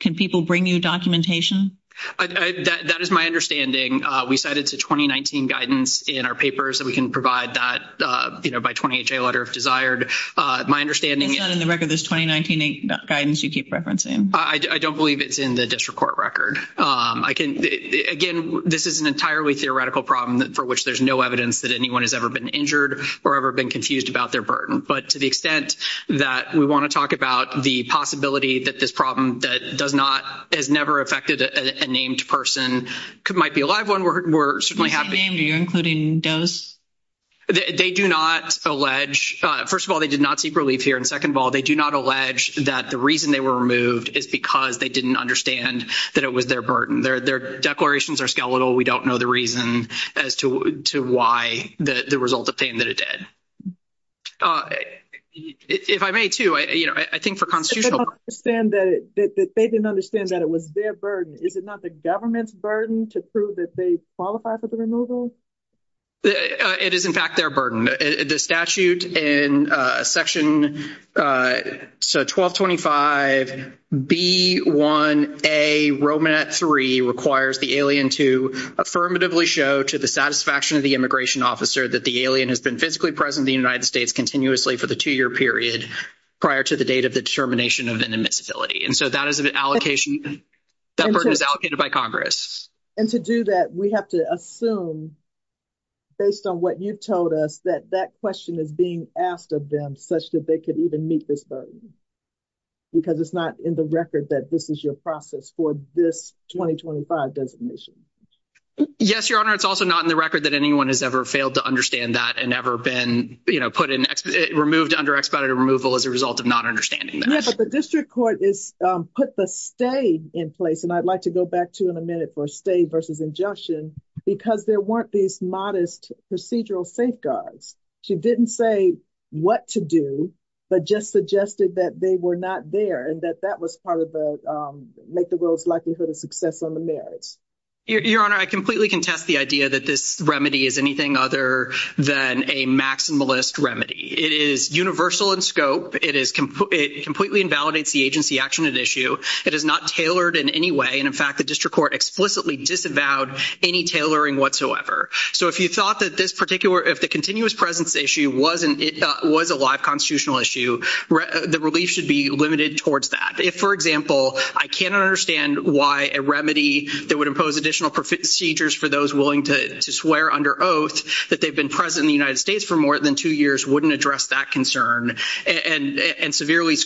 Can people bring you documentation? That is my understanding. We cited the 2019 guidance in our paper, so we can provide that by 20HA letter if desired. My understanding is— And in the record, there's 2019 guidance you keep referencing? I don't believe it's in the district court record. Again, this is an entirely theoretical problem for which there's no evidence that anyone has ever been injured or ever been confused about their burden. But to the extent that we want to talk about the possibility that this problem has never affected a named person, it might be a live one. We're certainly happy— Any name you're including does? They do not allege—first of all, they did not seek relief here. And second of all, they do not allege that the reason they were removed is because they didn't understand that it was their burden. Their declarations are skeletal. We don't know the reason as to why the result of saying that it did. If I may, too, I think for constitutional— They didn't understand that it was their burden. Is it not the government's burden to prove that they qualify for the removal? It is, in fact, their burden. The statute in section—so, 1225B1A, Romanat III requires the alien to affirmatively show to the satisfaction of the immigration officer that the alien has been physically present in the United States continuously for the two-year period prior to the date of the determination of an immiscibility. And so that is an allocation—that burden is allocated by Congress. And to do that, we have to assume, based on what you told us, that that question is being asked of them such that they could even meet this burden because it's not in the record that this is your process for this 2025 designation. Yes, Your Honor. It's also not in the record that anyone has ever failed to understand that and ever been, you know, put in—removed under expedited removal as a result of not understanding that. Yes, but the district court has put the stay in place—and I'd like to go back to in a minute for stay versus injunction—because there weren't these modest procedural safeguards. She didn't say what to do but just suggested that they were not there and that that was part of the—make the world's likelihood of success on the marriage. Your Honor, I completely contest the idea that this remedy is anything other than a maximalist remedy. It is universal in scope. It completely invalidates the agency action at issue. It is not tailored in any way. And, in fact, the district court explicitly disavowed any tailoring whatsoever. So if you thought that this particular—if the continuous presence issue was a live constitutional issue, the relief should be limited towards that. If, for example, I can't understand why a remedy that would impose additional procedures for those willing to swear under oath that they've been present in the United States for more than two years wouldn't address that concern and severely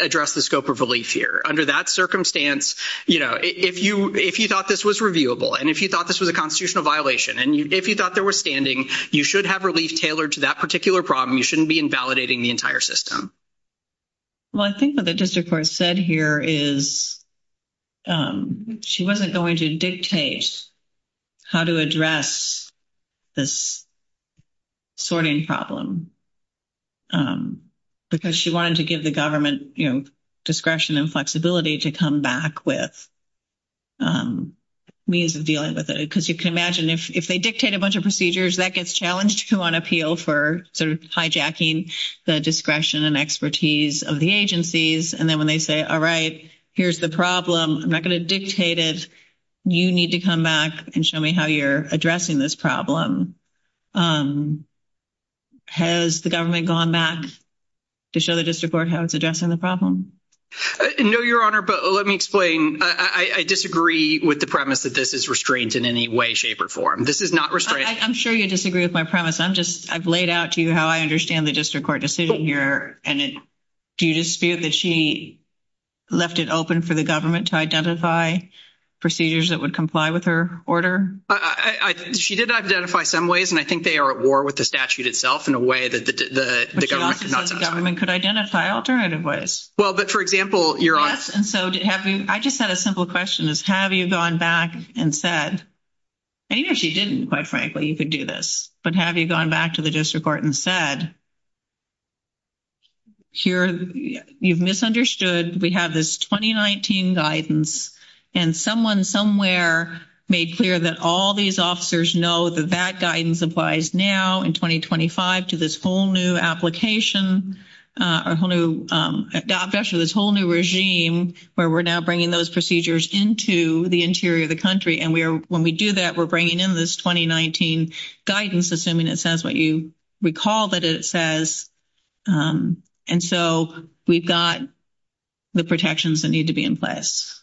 address the scope of relief here. Under that circumstance, you know, if you thought this was reviewable and if you thought this was a constitutional violation and if you thought there was standing, you should have relief tailored to that particular problem. You shouldn't be invalidating the entire system. Well, I think what the district court said here is she wasn't going to dictate how to address this sorting problem because she wanted to give the government, you know, discretion and flexibility to come back with means of dealing with it. Because you can imagine if they dictate a bunch of procedures, that gets challenged on appeal for sort of hijacking the discretion and expertise of the agencies. And then when they say, all right, here's the problem, I'm not going to dictate it. You need to come back and show me how you're addressing this problem. Has the government gone back to show the district court how it's addressing the problem? No, Your Honor, but let me explain. I disagree with the premise that this is restrained in any way, shape, or form. This is not restraining. I'm sure you disagree with my premise. I've laid out to you how I understand the district court decision here. And do you dispute that she left it open for the government to identify procedures that would comply with her order? She did identify some ways, and I think they are at war with the statute itself in a way that the government could not. Well, but for example, Your Honor. Yes, and so I just had a simple question. Have you gone back and said, maybe she didn't, quite frankly, you could do this. But have you gone back to the district court and said, you've misunderstood, we have this 2019 guidance, and someone somewhere made clear that all these officers know that that guidance applies now in 2025 to this whole new application, a whole new, this whole new regime where we're now bringing those procedures into the interior of the country. And when we do that, we're bringing in this 2019 guidance, assuming it says what you recall that it says. And so we've got the protections that need to be in place.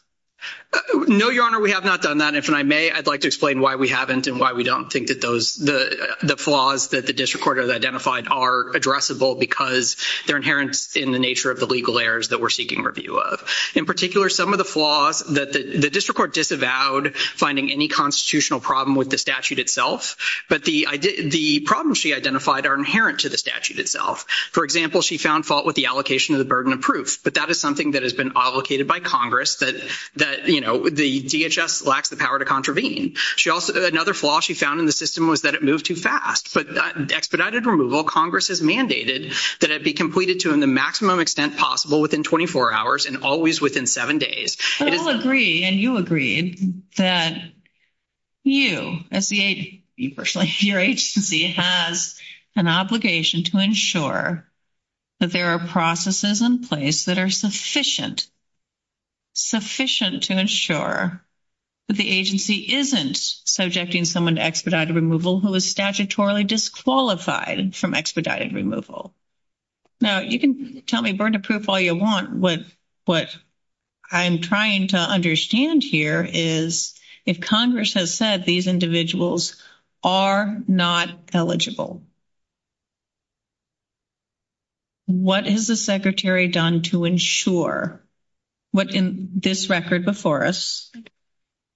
No, Your Honor, we have not done that. If I may, I'd like to explain why we haven't and why we don't think that those, the flaws that the district court has identified are addressable because they're inherent in the nature of the legal errors that we're seeking review of. In particular, some of the flaws that the district court disavowed finding any constitutional problem with the statute itself, but the problems she identified are inherent to the statute itself. For example, she found fault with the allocation of the burden of proof, but that is something that has been allocated by Congress that, you know, the DHS lacks the power to contravene. Another flaw she found in the system was that it moved too fast. But expedited removal, Congress has mandated that it be completed to the maximum extent possible within 24 hours and always within seven days. So we'll agree, and you agree, that you as the agency, your agency has an obligation to ensure that there are processes in place that are sufficient, sufficient to ensure that the agency isn't subjecting someone to expedited removal who is statutorily disqualified from expedited removal. Now, you can tell me burden of proof all you want. What I'm trying to understand here is if Congress has said these individuals are not eligible, what has the secretary done to ensure what in this record before us?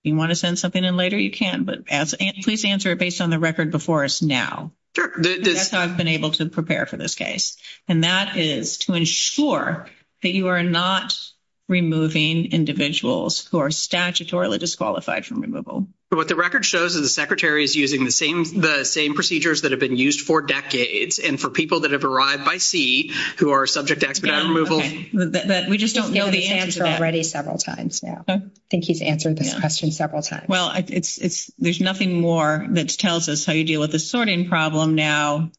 You want to send something in later? You can, but please answer it based on the record before us now. Sure. That's how I've been able to prepare for this case. And that is to ensure that you are not removing individuals who are statutorily disqualified from removal. But what the record shows is the secretary is using the same procedures that have been used for decades, and for people that have arrived by sea who are subject to expedited removal. We just don't know the answer to that. He's answered already several times now. I think he's answered the question several times. Well, there's nothing more that tells us how you deal with the sorting problem now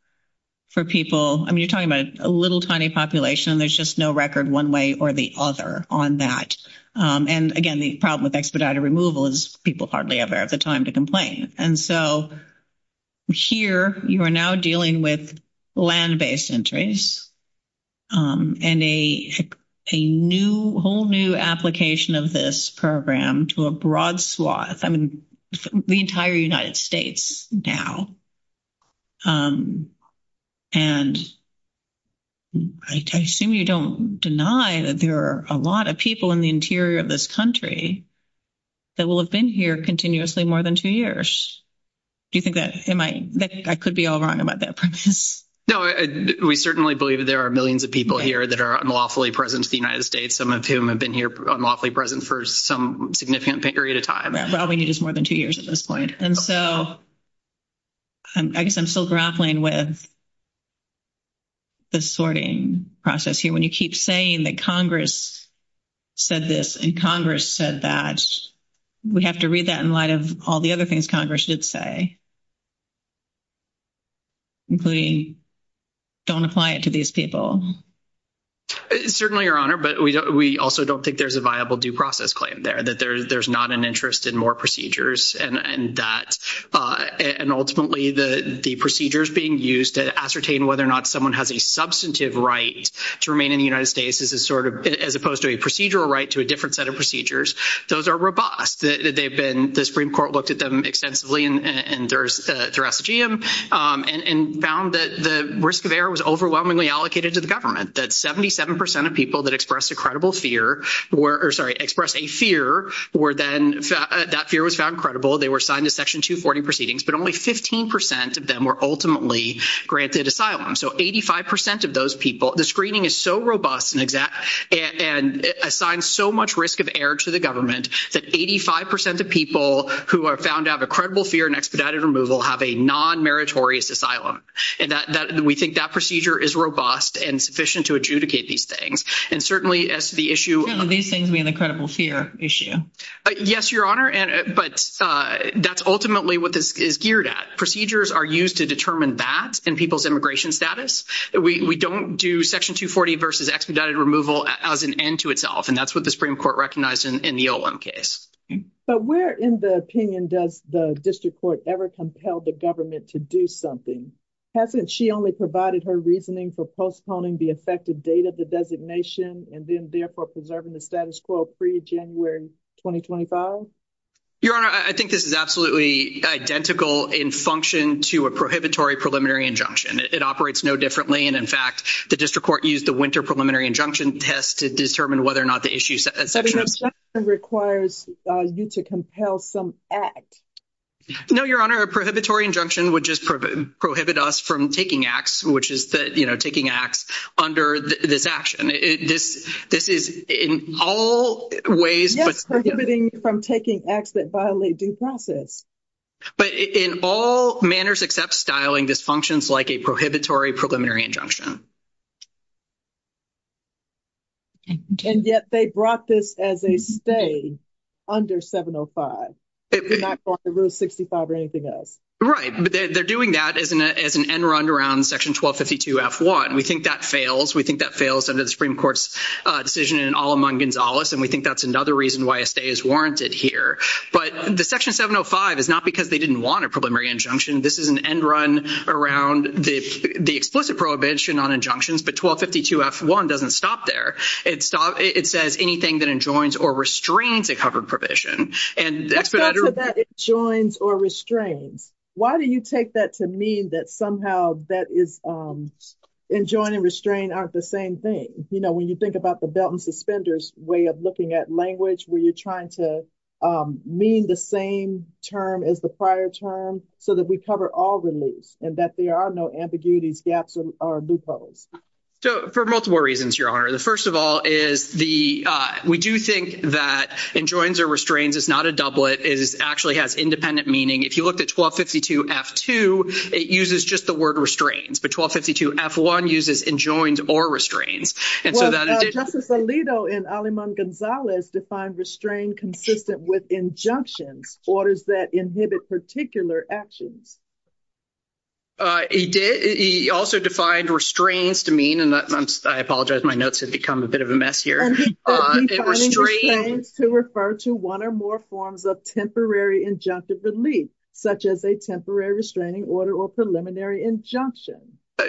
for people. I mean, you're talking about a little tiny population, and there's just no record one way or the other on that. And, again, the problem with expedited removal is people hardly ever have the time to complain. And so here you are now dealing with land-based entries and a whole new application of this program to a broad swath. I mean, the entire United States now. And I assume you don't deny that there are a lot of people in the interior of this country that will have been here continuously more than two years. Do you think that I could be all wrong about that? No, we certainly believe there are millions of people here that are unlawfully present to the United States, some of whom have been here unlawfully present for some significant period of time. Probably more than two years at this point. And so I guess I'm still grappling with the sorting process here. When you keep saying that Congress said this and Congress said that, we have to read that in light of all the other things Congress did say, including don't apply it to these people. Certainly, Your Honor, but we also don't think there's a viable due process claim there, that there's not an interest in more procedures. And ultimately, the procedures being used to ascertain whether or not someone has a substantive right to remain in the United States, as opposed to a procedural right to a different set of procedures, those are robust. The Supreme Court looked at them extensively in their exegeum and found that the risk of error was overwhelmingly allocated to the government, that 77% of people that expressed a fear were then, that fear was found credible. They were assigned to Section 240 proceedings, but only 15% of them were ultimately granted asylum. So 85% of those people, the screening is so robust and assigned so much risk of error to the government, that 85% of people who are found to have a credible fear and expedited removal have a non-meritorious asylum. And that, we think that procedure is robust and sufficient to adjudicate these things. And certainly, as to the issue of- These things being a credible fear issue. Yes, Your Honor, but that's ultimately what this is geared at. Procedures are used to determine that in people's immigration status. We don't do Section 240 versus expedited removal as an end to itself, and that's what the Supreme Court recognized in the Olum case. But where in the opinion does the District Court ever compel the government to do something? Hasn't she only provided her reasoning for postponing the effective date of the designation and then therefore preserving the status quo pre-January 2025? Your Honor, I think this is absolutely identical in function to a prohibitory preliminary injunction. It operates no differently, and in fact, the District Court used the winter preliminary injunction test to determine whether or not the issue- An injunction requires you to compel some act. No, Your Honor, a prohibitory injunction would just prohibit us from taking acts, which is taking acts under this action. This is in all ways- Yes, prohibiting from taking acts that violate due process. But in all manners except styling, this functions like a prohibitory preliminary injunction. And yet they brought this as a stay under 705. They're not going to Rule 65 or anything else. Right. They're doing that as an end run around Section 1252-F1. We think that fails. We think that fails under the Supreme Court's decision in an all-among Gonzales, and we think that's another reason why a stay is warranted here. But the Section 705 is not because they didn't want a preliminary injunction. This is an end run around the explicit prohibition on injunctions. But 1252-F1 doesn't stop there. It says anything that enjoins or restrains a covered provision. That's not that it joins or restrains. Why do you take that to mean that somehow that is-enjoin and restrain aren't the same thing? You know, when you think about the belt and suspenders way of looking at language, where you're trying to mean the same term as the prior term so that we cover all the loops and that there are no ambiguities, gaps, or loopholes. So for multiple reasons, Your Honor. First of all is the-we do think that enjoins or restrains is not a doublet. It actually has independent meaning. If you look at 1252-F2, it uses just the word restrains. But 1252-F1 uses enjoins or restrains. Justice Alito in Aleman Gonzalez defined restrain consistent with injunctions, orders that inhibit particular actions. He did. He also defined restrains to mean-and I apologize. My notes have become a bit of a mess here. He defined restrains to refer to one or more forms of temporary injunctive relief, such as a temporary restraining order or preliminary injunction.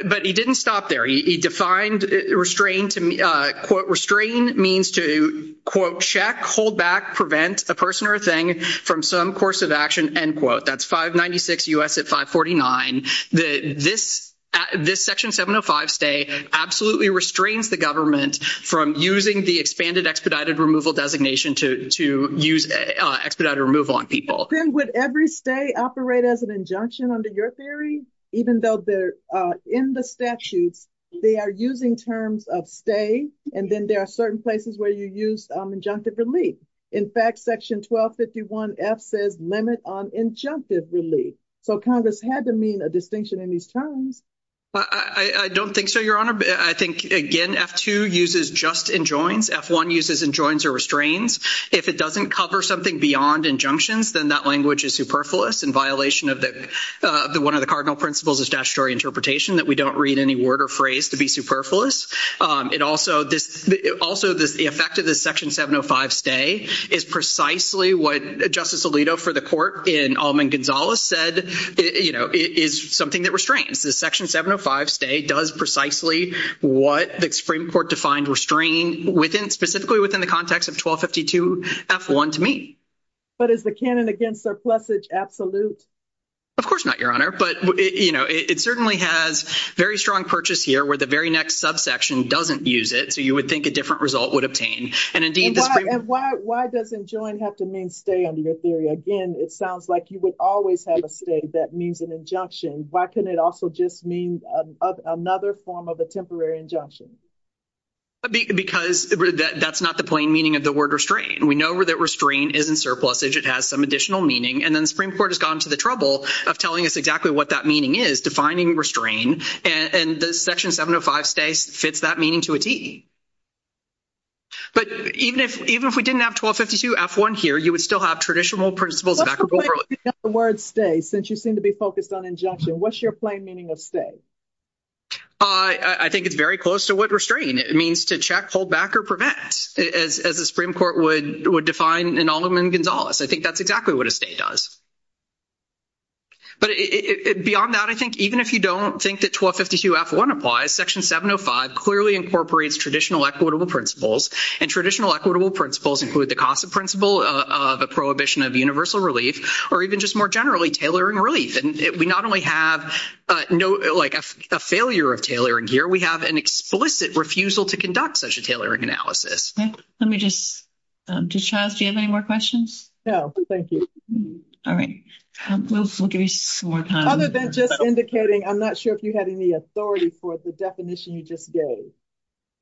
But he didn't stop there. He defined restrains-quote, restrain means to, quote, check, hold back, prevent a person or a thing from some course of action, end quote. That's 596 U.S. at 549. This Section 705 stay absolutely restrains the government from using the expanded expedited removal designation to use expedited removal on people. Then would every stay operate as an injunction under your theory, even though in the statute they are using terms of stay, and then there are certain places where you use injunctive relief. In fact, Section 1251-F says limit on injunctive relief. So Congress had to mean a distinction in these terms. I don't think so, Your Honor. I think, again, F2 uses just enjoins. F1 uses enjoins or restrains. If it doesn't cover something beyond injunctions, then that language is superfluous in violation of one of the cardinal principles of statutory interpretation, that we don't read any word or phrase to be superfluous. Also, the effect of the Section 705 stay is precisely what Justice Alito for the court in Alman-Gonzalez said, you know, is something that restrains. The Section 705 stay does precisely what the Supreme Court defined restrain specifically within the context of 1252-F1 to me. But is the canon against surplusage absolute? Of course not, Your Honor. But, you know, it certainly has very strong purchase here where the very next subsection doesn't use it, so you would think a different result would obtain. And why does enjoin have to mean stay under your theory? Again, it sounds like you would always have a stay that means an injunction. Why couldn't it also just mean another form of a temporary injunction? Because that's not the plain meaning of the word restrain. We know that restrain isn't surplusage. It has some additional meaning. And then the Supreme Court has gone to the trouble of telling us exactly what that meaning is, defining restrain, and the Section 705 stay fits that meaning to a T. But even if we didn't have 1252-F1 here, you would still have traditional principles of acrobatics. What's the plain meaning of the word stay since you seem to be focused on injunction? What's your plain meaning of stay? I think it's very close to what restrain means, to check, hold back, or prevent, as the Supreme Court would define in Alderman Gonzalez. I think that's exactly what a stay does. But beyond that, I think even if you don't think that 1252-F1 applies, Section 705 clearly incorporates traditional equitable principles, and traditional equitable principles include the CASA principle of a prohibition of universal relief, or even just more generally, tailoring relief. And we not only have a failure of tailoring here, we have an explicit refusal to conduct such a tailoring analysis. Let me just, does Charles, do you have any more questions? No, thank you. All right. Other than just indicating, I'm not sure if you have any authority for the definition you just gave.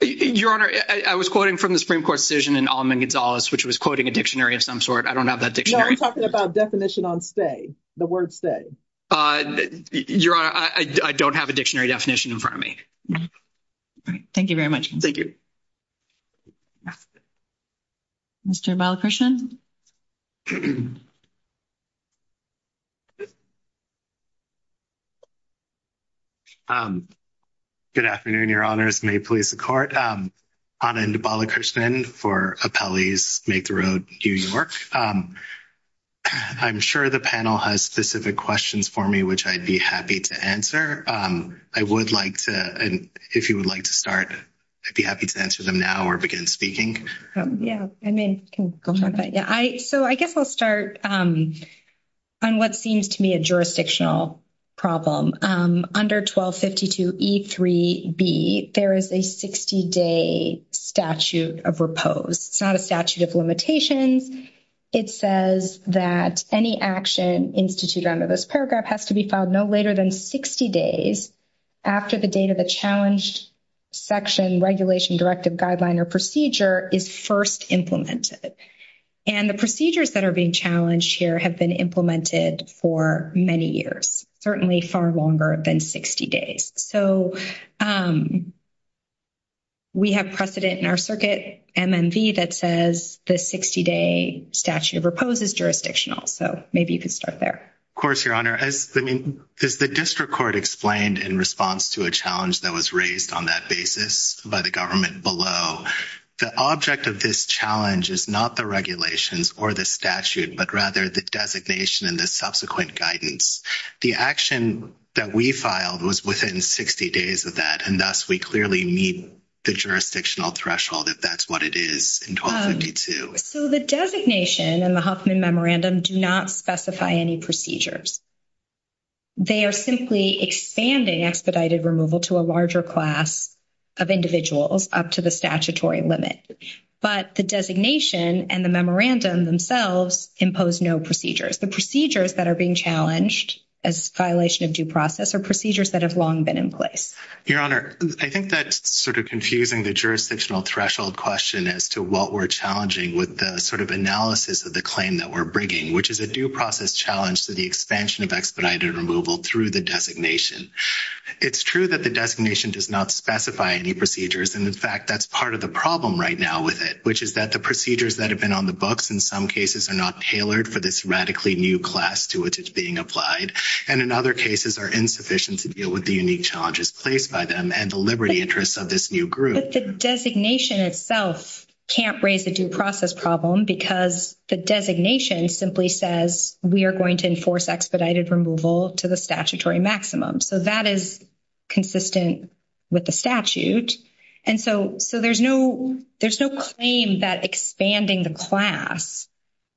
Your Honor, I was quoting from the Supreme Court decision in Alderman Gonzalez, which was quoting a dictionary of some sort. I don't have that dictionary. No, we're talking about definition on stay, the word stay. Your Honor, I don't have a dictionary definition in front of me. All right. Thank you very much. Thank you. Mr. Balakrishnan? Good afternoon, Your Honors. May it please the Court. Anand Balakrishnan for Appellees Make the Road to New York. I'm sure the panel has specific questions for me, which I'd be happy to answer. I would like to, if you would like to start, I'd be happy to answer them now or begin speaking. Yeah. I mean, go for it. Yeah. So I guess I'll start on what seems to me a jurisdictional problem. Under 1252 E3B, there is a 60-day statute of repose. It's not a statute of limitation. It says that any action instituted under this paragraph has to be filed no later than 60 days after the date of the challenge section, regulation, directive, guideline, or procedure is first implemented. And the procedures that are being challenged here have been implemented for many years, certainly far longer than 60 days. So we have precedent in our circuit, MMD, that says the 60-day statute of repose is jurisdictional. So maybe you could start there. Of course, Your Honor. As the district court explained in response to a challenge that was raised on that basis by the government below, the object of this challenge is not the regulations or the statute, but rather the designation and the subsequent guidance. The action that we filed was within 60 days of that, and thus we clearly meet the jurisdictional threshold if that's what it is in 1252. So the designation and the Huffman Memorandum do not specify any procedures. They are simply expanding expedited removal to a larger class of individuals up to the statutory limit. But the designation and the memorandum themselves impose no procedures. The procedures that are being challenged as violation of due process are procedures that have long been in place. Your Honor, I think that's sort of confusing the jurisdictional threshold question as to what we're challenging with the sort of analysis of the claim that we're bringing, which is a due process challenge to the expansion of expedited removal through the designation. It's true that the designation does not specify any procedures, and, in fact, that's part of the problem right now with it, which is that the procedures that have been on the books, in some cases, are not tailored for this radically new class to which it's being applied, and in other cases are insufficient to deal with the unique challenges placed by them and the liberty interests of this new group. But the designation itself can't raise the due process problem because the designation simply says we are going to enforce expedited removal to the statutory maximum. So that is consistent with the statute. And so there's no claim that expanding the class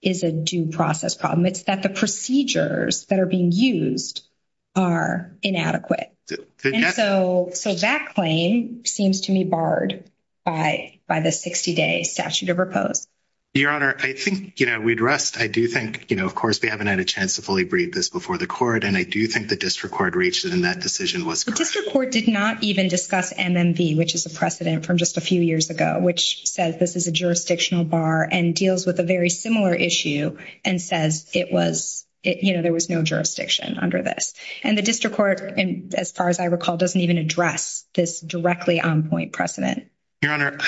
is a due process problem. It's that the procedures that are being used are inadequate. And so that claim seems to me barred by the 60-day statute of repose. Your Honor, I think, you know, we'd rest. I do think, you know, of course, they haven't had a chance to fully brief this before the court, and I do think the district court reached it, and that decision was correct. The district court did not even discuss MMV, which is the precedent from just a few years ago, which says this is a jurisdictional bar and deals with a very similar issue and says it was, you know, there was no jurisdiction under this. And the district court, as far as I recall, doesn't even address this directly on point precedent. Your Honor,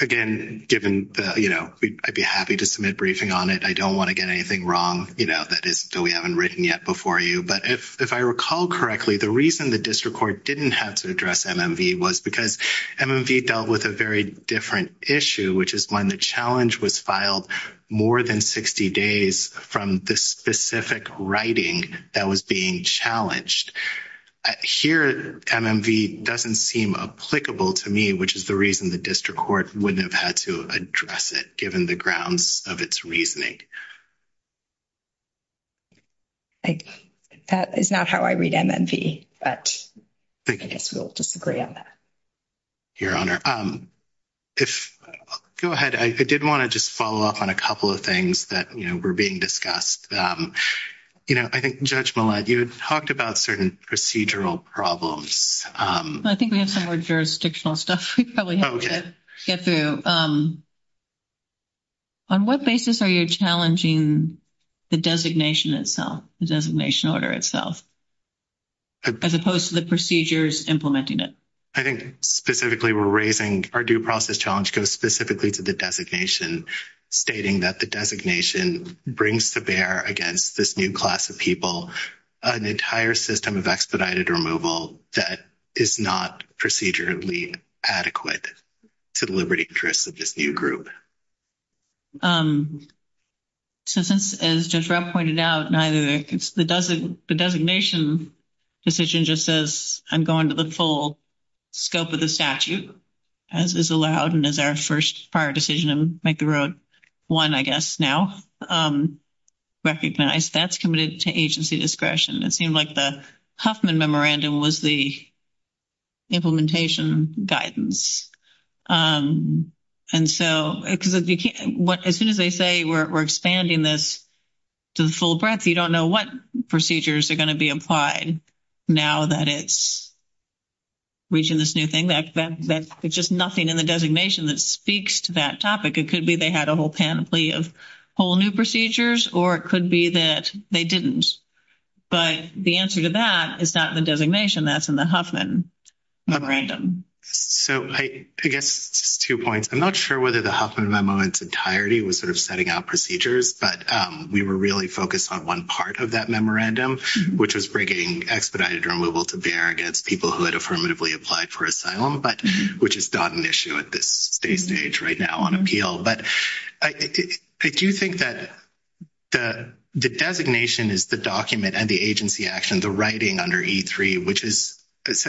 again, given, you know, I'd be happy to submit a briefing on it. I don't want to get anything wrong, you know, that we haven't written yet before you. But if I recall correctly, the reason the district court didn't have to address MMV was because MMV dealt with a very different issue, which is when the challenge was filed more than 60 days from this specific writing that was being challenged. Here, MMV doesn't seem applicable to me, which is the reason the district court wouldn't have had to address it, given the grounds of its reasoning. That is not how I read MMV, but I guess we'll just agree on that. Your Honor, go ahead. I did want to just follow up on a couple of things that, you know, were being discussed. You know, I think Judge Millett, you had talked about certain procedural problems. I think we have some more jurisdictional stuff we probably have to get through. On what basis are you challenging the designation itself, the designation order itself, as opposed to the procedures implementing it? I think specifically we're raising our due process challenge goes specifically to the designation, stating that the designation brings to bear against this new class of people an entire system of expedited removal that is not procedurally adequate to the liberty and interests of this new group. So since, as Judge Rupp pointed out, the designation decision just says, I'm going to the full scope of the statute, as is allowed, and as our first prior decision, I'm making Route 1, I guess, now. Recognize that's committed to agency discretion. It seemed like the Huffman Memorandum was the implementation guidance. And so as soon as they say we're expanding this to the full breadth, you don't know what procedures are going to be applied now that it's reaching this new thing. There's just nothing in the designation that speaks to that topic. It could be they had a whole panoply of whole new procedures, or it could be that they didn't. But the answer to that is not in the designation. That's in the Huffman Memorandum. So I guess two points. I'm not sure whether the Huffman Memo in its entirety was sort of setting out procedures, but we were really focused on one part of that memorandum, which was bringing expedited removal to bear against people who had affirmatively applied for asylum, which is not an issue at this stage right now on appeal. But I do think that the designation is the document and the agency action, the writing under E-3, which is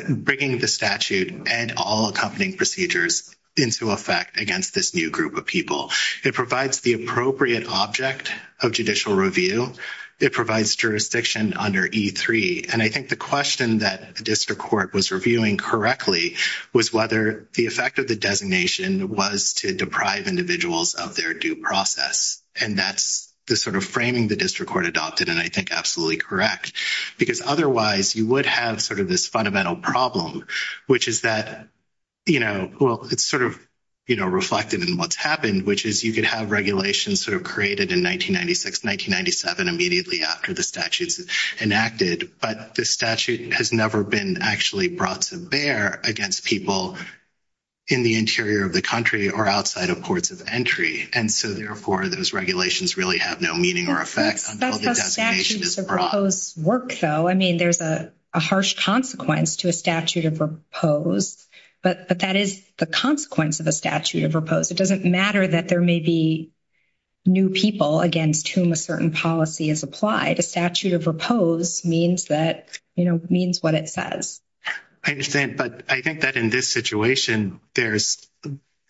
bringing the statute and all accompanying procedures into effect against this new group of people. It provides the appropriate object of judicial review. It provides jurisdiction under E-3. And I think the question that the district court was reviewing correctly was whether the effect of the designation was to deprive individuals of their due process. And that's the sort of framing the district court adopted, and I think absolutely correct, because otherwise you would have sort of this fundamental problem, which is that, you know, well, it's sort of, you know, reflected in what's happened, which is you could have regulations sort of created in 1996, 1997, immediately after the statute is enacted, but the statute has never been actually brought to bear against people in the interior of the country or outside of ports of entry. And so, therefore, those regulations really have no meaning or effect until the designation is brought. That's how statutes of repose work, though. I mean, there's a harsh consequence to a statute of repose, but that is the consequence of a statute of repose. It doesn't matter that there may be new people against whom a certain policy is applied. A statute of repose means that, you know, means what it says. I understand, but I think that in this situation, there's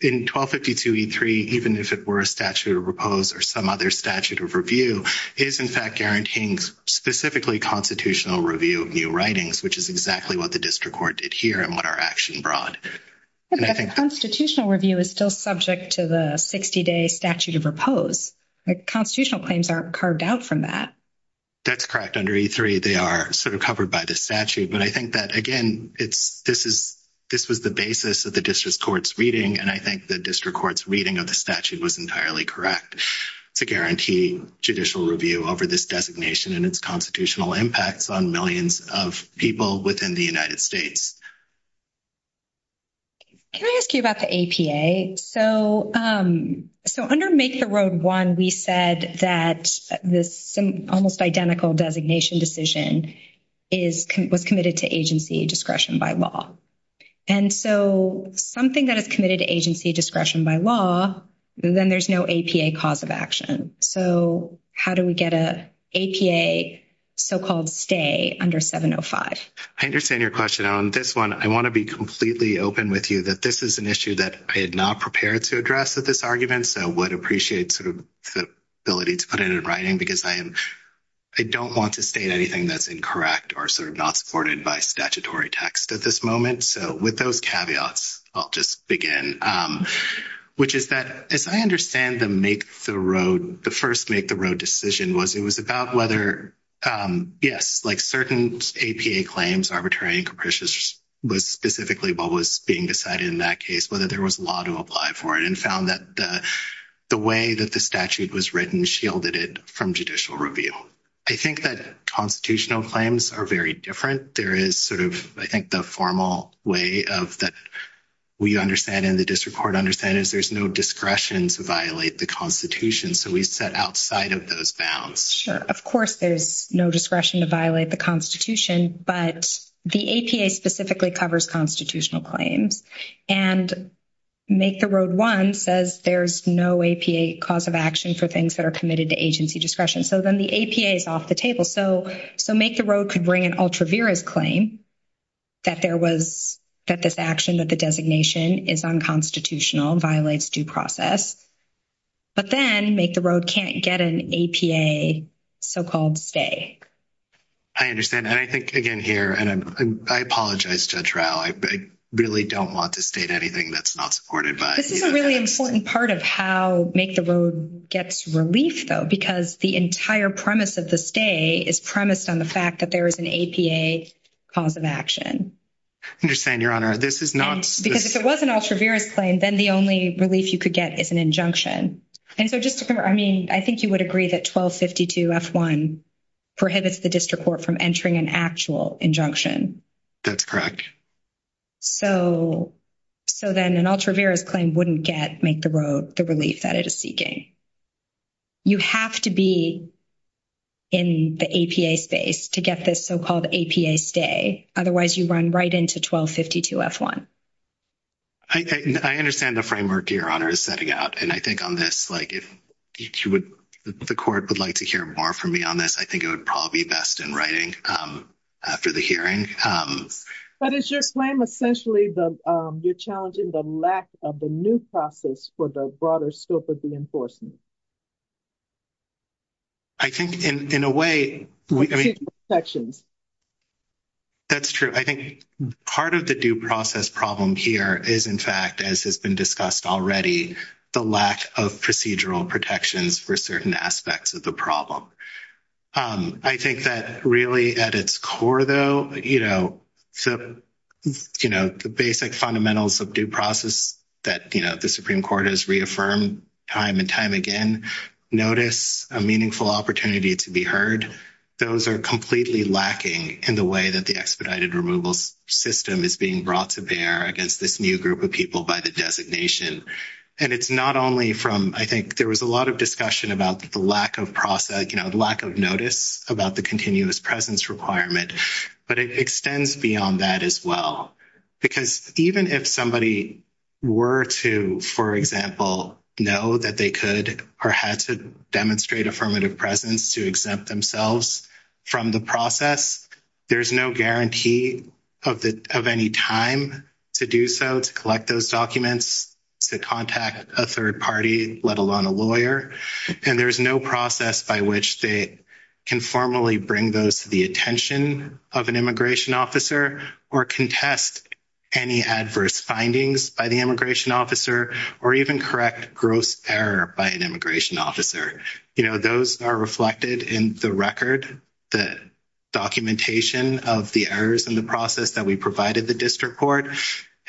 in 1252e3, even if it were a statute of repose or some other statute of review, is, in fact, guaranteeing specifically constitutional review of new writings, which is exactly what the district court did here and what our action brought. But the constitutional review is still subject to the 60-day statute of repose. The constitutional claims aren't carved out from that. That's correct. Under e3, they are sort of covered by the statute. But I think that, again, this is the basis of the district court's reading, and I think the district court's reading of the statute was entirely correct to guarantee judicial review over this designation and its constitutional impacts on millions of people within the United States. Can I ask you about the APA? So under MAKESA Road 1, we said that this almost identical designation decision was committed to agency discretion by law. And so something that is committed to agency discretion by law, then there's no APA cause of action. So how do we get an APA so-called stay under 705? I understand your question. On this one, I want to be completely open with you that this is an issue that I had not prepared to address with this argument. So I would appreciate sort of the ability to put it in writing because I don't want to state anything that's incorrect or sort of not supported by statutory text at this moment. So with those caveats, I'll just begin, which is that as I understand the MAKESA Road, the first MAKESA Road decision was it was about whether, yes, like certain APA claims, arbitrary and capricious, was specifically what was being decided in that case, whether there was law to apply for it and found that the way that the statute was written shielded it from judicial review. I think that constitutional claims are very different. There is sort of, I think, the formal way of that we understand in the district court understand is there's no discretion to violate the Constitution. So we set outside of those bounds. Of course, there's no discretion to violate the Constitution, but the APA specifically covers constitutional claims. And MAKESA Road 1 says there's no APA cause of action for things that are committed to agency discretion. So then the APA is off the table. So MAKESA Road could bring an ultra-virus claim that there was, that this action with the designation is unconstitutional, violates due process. But then MAKESA Road can't get an APA so-called stay. I understand. And I think, again, here, and I apologize to the trial. I really don't want to state anything that's not supported by... This is a really important part of how MAKESA Road gets relief, though, because the entire premise of the stay is premised on the fact that there is an APA cause of action. I understand, Your Honor. This is not... Because if it was an ultra-virus claim, then the only relief you could get is an injunction. And so just to clarify, I mean, I think you would agree that 1252F1 prohibits the district court from entering an actual injunction. That's correct. So then an ultra-virus claim wouldn't get MAKESA Road the relief that it is seeking. You have to be in the APA space to get this so-called APA stay. Otherwise, you run right into 1252F1. I understand the framework, Your Honor, is setting out. And I think on this, like, if the court would like to hear more from me on this, I think it would probably be best in writing after the hearing. But it's your claim, essentially, you're challenging the lack of the new process for the broader scope of the enforcement. I think, in a way... That's true. I think part of the due process problem here is, in fact, as has been discussed already, the lack of procedural protections for certain aspects of the problem. I think that, really, at its core, though, you know, the basic fundamentals of due process that the Supreme Court has reaffirmed time and time again, notice a meaningful opportunity to be heard, those are completely lacking in the way that the expedited removal system is being brought to bear against this new group of people by the designation. And it's not only from... I think there was a lot of discussion about the lack of process, you know, the lack of notice about the continuous presence requirement, but it extends beyond that as well. Because even if somebody were to, for example, know that they could or had to demonstrate affirmative presence to exempt themselves from the process, there's no guarantee of any time to do so, to collect those documents, to contact a third party, let alone a lawyer. And there's no process by which they can formally bring those to the attention of an immigration officer or contest any adverse findings by the immigration officer or even correct gross error by an immigration officer. You know, those are reflected in the record, the documentation of the errors in the process that we provided the district court.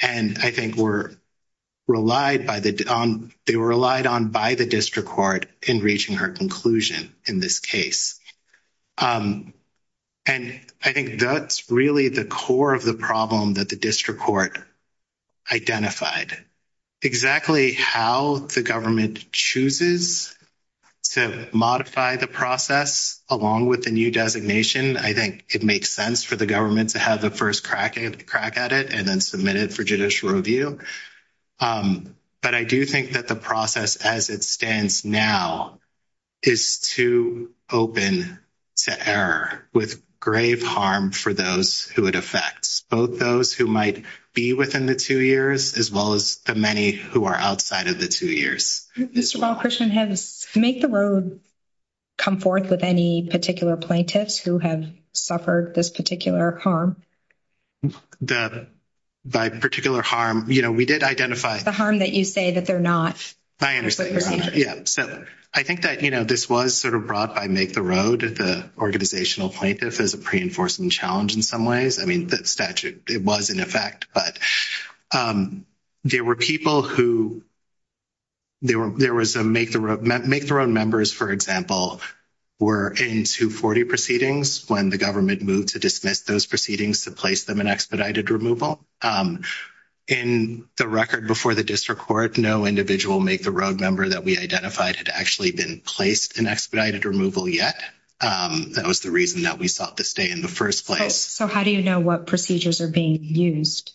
And I think they were relied on by the district court in reaching her conclusion in this case. And I think that's really the core of the problem that the district court identified. Exactly how the government chooses to modify the process along with the new designation, I think it makes sense for the government to have the first crack at it and then submit it for judicial review. But I do think that the process as it stands now is too open to error, with grave harm for those who it affects, both those who might be within the two years as well as the many who are outside of the two years. While Christian has... Make the Road come forth with any particular plaintiffs who have suffered this particular harm? By particular harm, you know, we did identify... The harm that you say that they're not. I understand. Yeah. So I think that, you know, this was sort of brought by Make the Road as the organizational plaintiff as a pre-enforcement challenge in some ways. I mean, the statute, it was in effect. But there were people who... There was a Make the Road... Make the Road members, for example, were in 240 proceedings when the government moved to dismiss those proceedings to place them in expedited removal. In the record before the district court, no individual Make the Road member that we identified had actually been placed in expedited removal yet. That was the reason that we sought to stay in the first place. So how do you know what procedures are being used?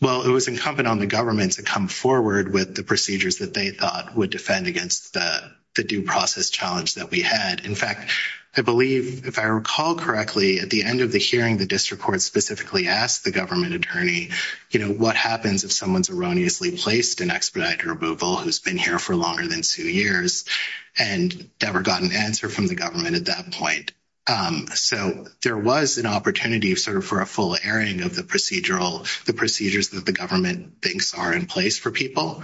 Well, it was incumbent on the government to come forward with the procedures that they thought would defend against the due process challenge that we had. In fact, I believe, if I recall correctly, at the end of the hearing, the district court specifically asked the government attorney, you know, what happens if someone's erroneously placed in expedited removal who's been here for longer than two years and never got an answer from the government at that point. So there was an opportunity sort of for a full airing of the procedural... the procedures that the government thinks are in place for people.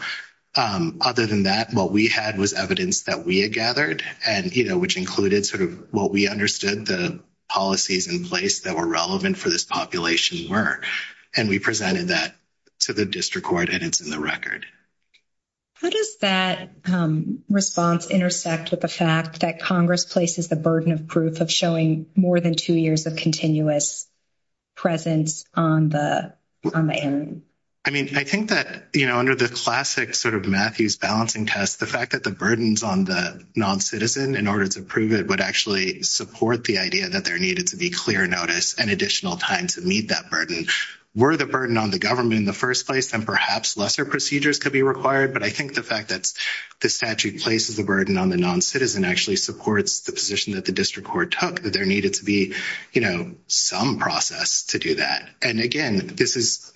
Other than that, what we had was evidence that we had gathered and, you know, which included sort of what we understood the policies in place that were relevant for this population were. And we presented that to the district court, and it's in the record. How does that response intersect with the fact that Congress places the burden of proof of showing more than two years of continuous presence on the hearing? I mean, I think that, you know, under the classic sort of Matthews balancing test, the fact that the burdens on the non-citizen in order to prove it would actually support the idea that there needed to be clear notice and additional time to meet that burden were the burden on the government in the first place, and perhaps lesser procedures could be required. But I think the fact that the statute places a burden on the non-citizen actually supports the position that the district court took, that there needed to be, you know, some process to do that. And again, this is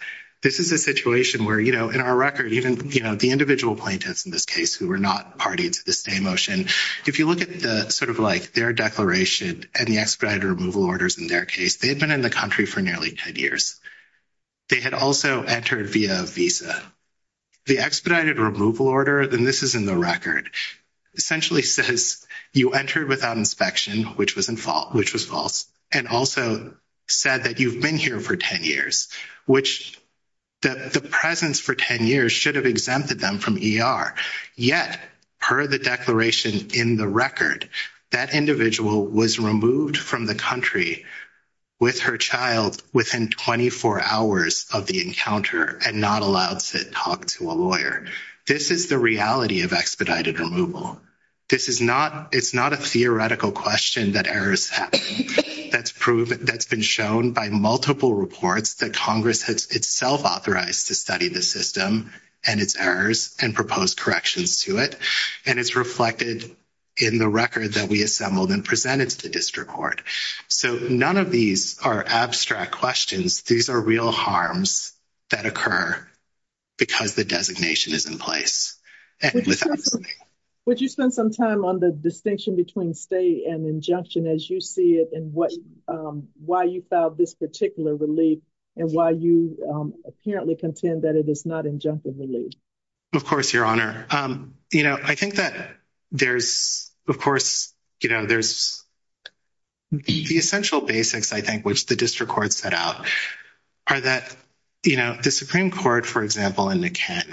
a situation where, you know, in our record, even, you know, the individual plaintiffs in this case who were not party to the same motion, if you look at the sort of like their declaration and the expedited removal orders in their case, they had been in the country for nearly 10 years. They had also entered via visa. The expedited removal order, and this is in the record, essentially says you entered without inspection, which was false, and also said that you've been here for 10 years, which the presence for 10 years should have exempted them from ER. Yet, per the declaration in the record, that individual was removed from the country with her child within 24 hours of the encounter and not allowed to talk to a lawyer. This is the reality of expedited removal. This is not a theoretical question that errors have. That's been shown by multiple reports that Congress has itself authorized to study the system and its errors and propose corrections to it. And it's reflected in the record that we assembled and presented to district court. So none of these are abstract questions. These are real harms that occur because the designation is in place. Would you spend some time on the distinction between state and injunction as you see it and why you filed this particular relief and why you apparently contend that it is not injunctive relief? Of course, Your Honor. You know, I think that there's, of course, you know, there's the essential basics, I think, which the district court set out, are that, you know, the Supreme Court, for example, in the Kent,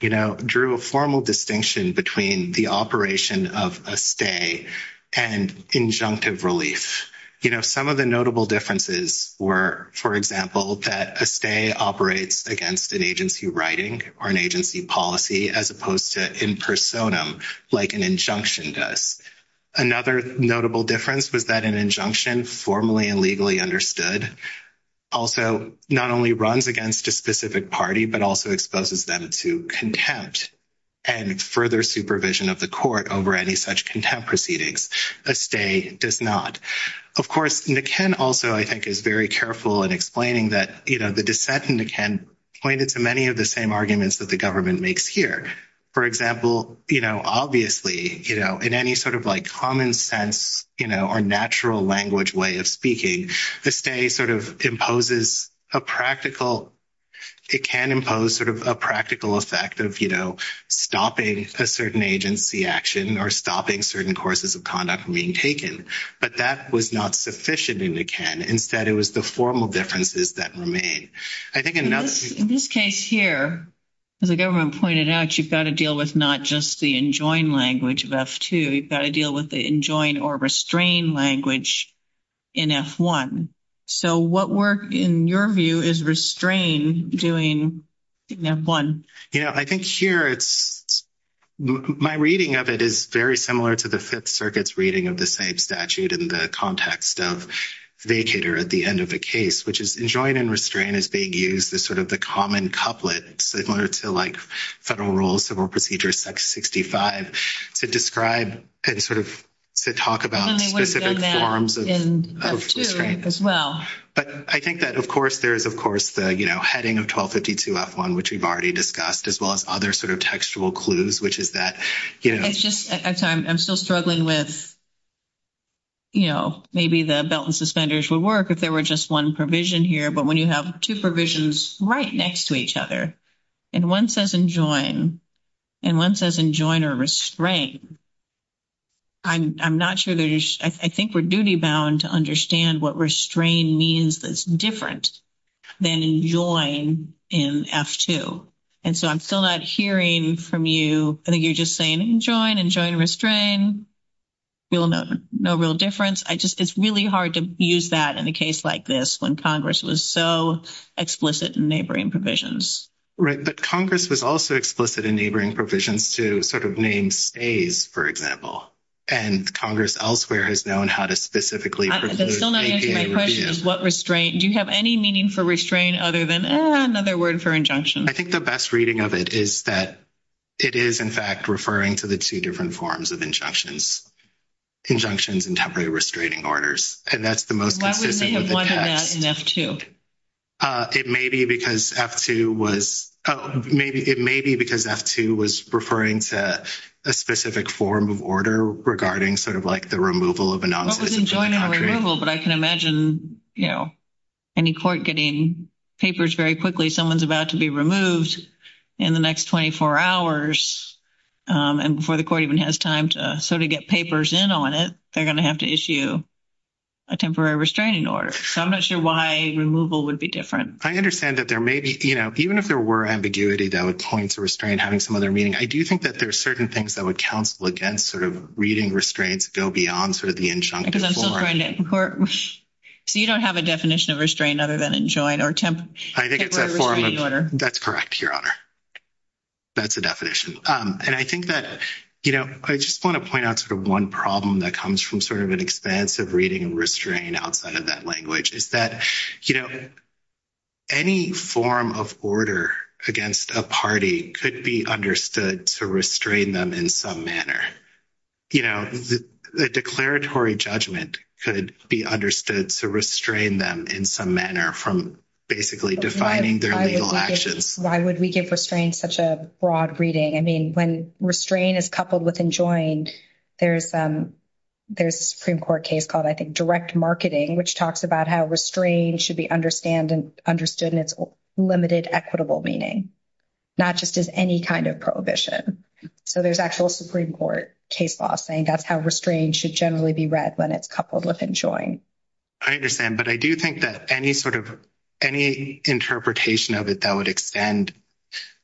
you know, drew a formal distinction between the operation of a stay and injunctive relief. You know, some of the notable differences were, for example, that a stay operates against an agency writing or an agency policy as opposed to in personam, like an injunction does. Another notable difference was that an injunction, formally and legally understood, also not only runs against a specific party, but also exposes them to contempt and further supervision of the court over any such contempt proceedings. A stay does not. Of course, the Kent also, I think, is very careful in explaining that, you know, the dissent in the Kent pointed to many of the same arguments that the government makes here. For example, you know, obviously, you know, in any sort of, like, common sense, you know, or natural language way of speaking, the stay sort of imposes a practical, it can impose sort of a practical effect of, you know, stopping a certain agency action or stopping certain courses of conduct from being taken. But that was not sufficient in the Kent. Instead, it was the formal differences that were made. I think in this case here, as the government pointed out, you've got to deal with not just the enjoin language of F2, you've got to deal with the enjoin or restrain language in F1. So what work, in your view, is restrain doing in F1? Yeah, I think here it's, my reading of it is very similar to the Fifth Circuit's reading of the same statute in the context of vacator at the end of the case, which is enjoin and restrain is being used as sort of the common couplet, similar to, like, federal rules, civil procedures, section 65, to describe and sort of to talk about the different forms of. And they would have done that in F2 as well. But I think that, of course, there's, of course, the, you know, heading of 1252 F1, which we've already discussed, as well as other sort of textual clues, which is that, you know. It's just, I'm sorry, I'm still struggling with, you know, maybe the belt and suspenders would work if there were just one provision here, but when you have two provisions right next to each other, and one says enjoin and one says enjoin or restrain, I'm not sure, I think we're duty-bound to understand what restrain means that's different than enjoin in F2. And so I'm still not hearing from you. I think you're just saying enjoin, enjoin, restrain. No real difference. I just, it's really hard to use that in a case like this when Congress was so explicit in neighboring provisions. Right, but Congress was also explicit in neighboring provisions to sort of name stays, for example. And Congress elsewhere has known how to specifically. My question is what restrain, do you have any meaning for restrain other than another word for injunction? I think the best reading of it is that it is, in fact, referring to the two different forms of injunctions, injunctions and temporary restraining orders. And that's the most specific. Why would they have wanted that in F2? It may be because F2 was, it may be because F2 was referring to a specific form of order regarding sort of like the removal of a non-citizen from the country. But I can imagine, you know, any court getting papers very quickly, someone's about to be removed in the next 24 hours and before the court even has time to sort of get papers in on it, they're going to have to issue a temporary restraining order. So I'm not sure why removal would be different. I understand that there may be, you know, even if there were ambiguity that would point to restrain having some other meaning, I do think that there are certain things that would counsel against sort of reading restraints go beyond sort of the injunctive form. Because I'm still trying to incorporate. So you don't have a definition of restrain other than enjoin or temporary restraining order. That's correct, Your Honor. That's the definition. And I think that, you know, I just want to point out sort of one problem that comes from sort of an expansive reading restrain outside of that language is that, you know, any form of order against a party could be understood to restrain them in some manner. You know, the declaratory judgment could be understood to restrain them in some manner from basically defining their legal actions. Why would we give restraint such a broad reading? I mean, when restraint is coupled with enjoined, there's a Supreme Court case called, I think, direct marketing, which talks about how restraint should be understood in its limited equitable meaning, not just as any kind of prohibition. So there's actual Supreme Court case law saying that's how restraint should generally be read when it's coupled with enjoined. I understand. But I do think that any sort of any interpretation of it that would extend,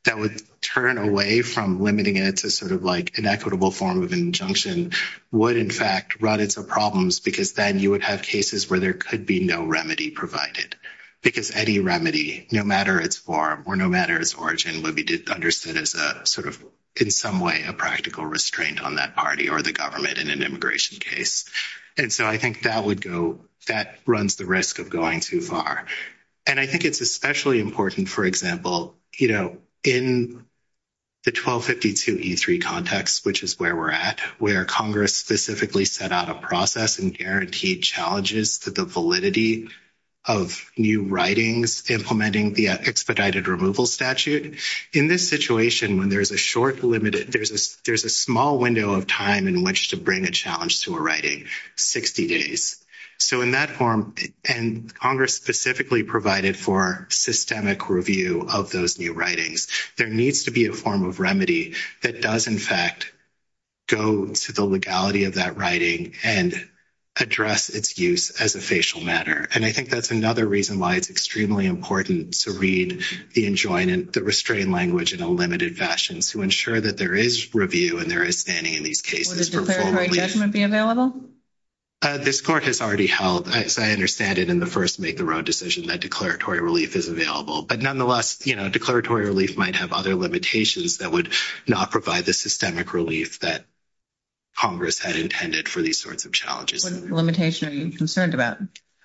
that would turn away from limiting it to sort of like an equitable form of injunction would, in fact, run into problems. Because then you would have cases where there could be no remedy provided because any remedy, no matter its form or no matter its origin, would be just understood as a sort of, in some way, a practical restraint on that party or the government in an immigration case. And so I think that would go, that runs the risk of going too far. And I think it's especially important, for example, you know, in the 1252 E3 context, which is where we're at where Congress specifically set out a process and guaranteed challenges to the validity of new writings, implementing the expedited removal statute. In this situation, when there's a short limited, there's a small window of time in which to bring a challenge to a writing 60 days. So in that form, and Congress specifically provided for systemic review of those new writings, there needs to be a form of remedy that does in fact go to the legality of that writing and address its use as a facial matter. And I think that's another reason why it's extremely important to read the enjoyment, the restraint language in a limited fashion, to ensure that there is review and there is standing in these cases. Will the declaratory adjustment be available? This court has already held, as I understand it, in the first make the road decision that declaratory relief is available, but nonetheless, you know, declaratory relief might have other limitations that would not provide the systemic relief that Congress had intended for these sorts of challenges. What limitation are you concerned about?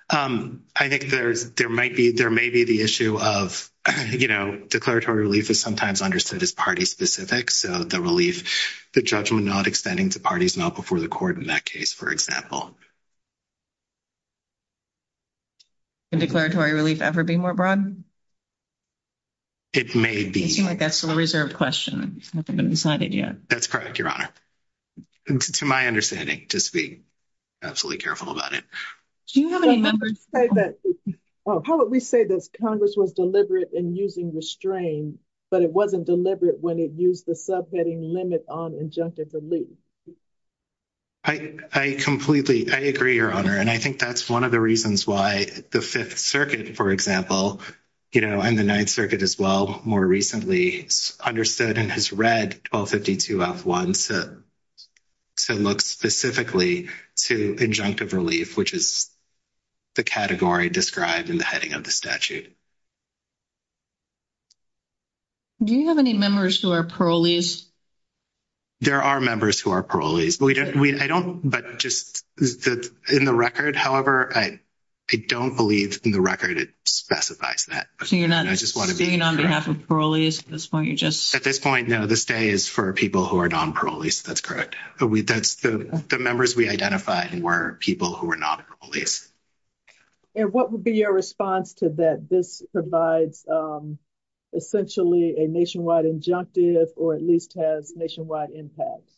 I think there, there might be, there may be the issue of, you know, declaratory relief is sometimes understood as party specific. So the relief, the judgment, not extending to parties, not before the court in that case, for example, the declaratory relief ever be more broad. It may be like that's for the reserve question. That's correct. Your honor. To my understanding, just be absolutely careful about it. How would we say that Congress was deliberate in using the strain, but it wasn't deliberate when it used the subheading limit on injunctive relief? I, I completely, I agree your honor. And I think that's one of the reasons why the fifth circuit, for example, you know, I'm the ninth circuit as well. More recently understood and has read 1252 off one. So look specifically to injunctive relief, which is the category described in the heading of the statute. Do you have any members who are parolees? There are members who are parolees. We just, we, I don't, but just in the record. However, I don't believe in the record. It specifies that. I just want to be on behalf of parolees at this point. You just, at this point, no, this day is for people who are non-parolees. That's correct. But we, that's the members we identified were people who were not police. And what would be your response to that? This provides essentially a nationwide injunctive, or at least has nationwide impact.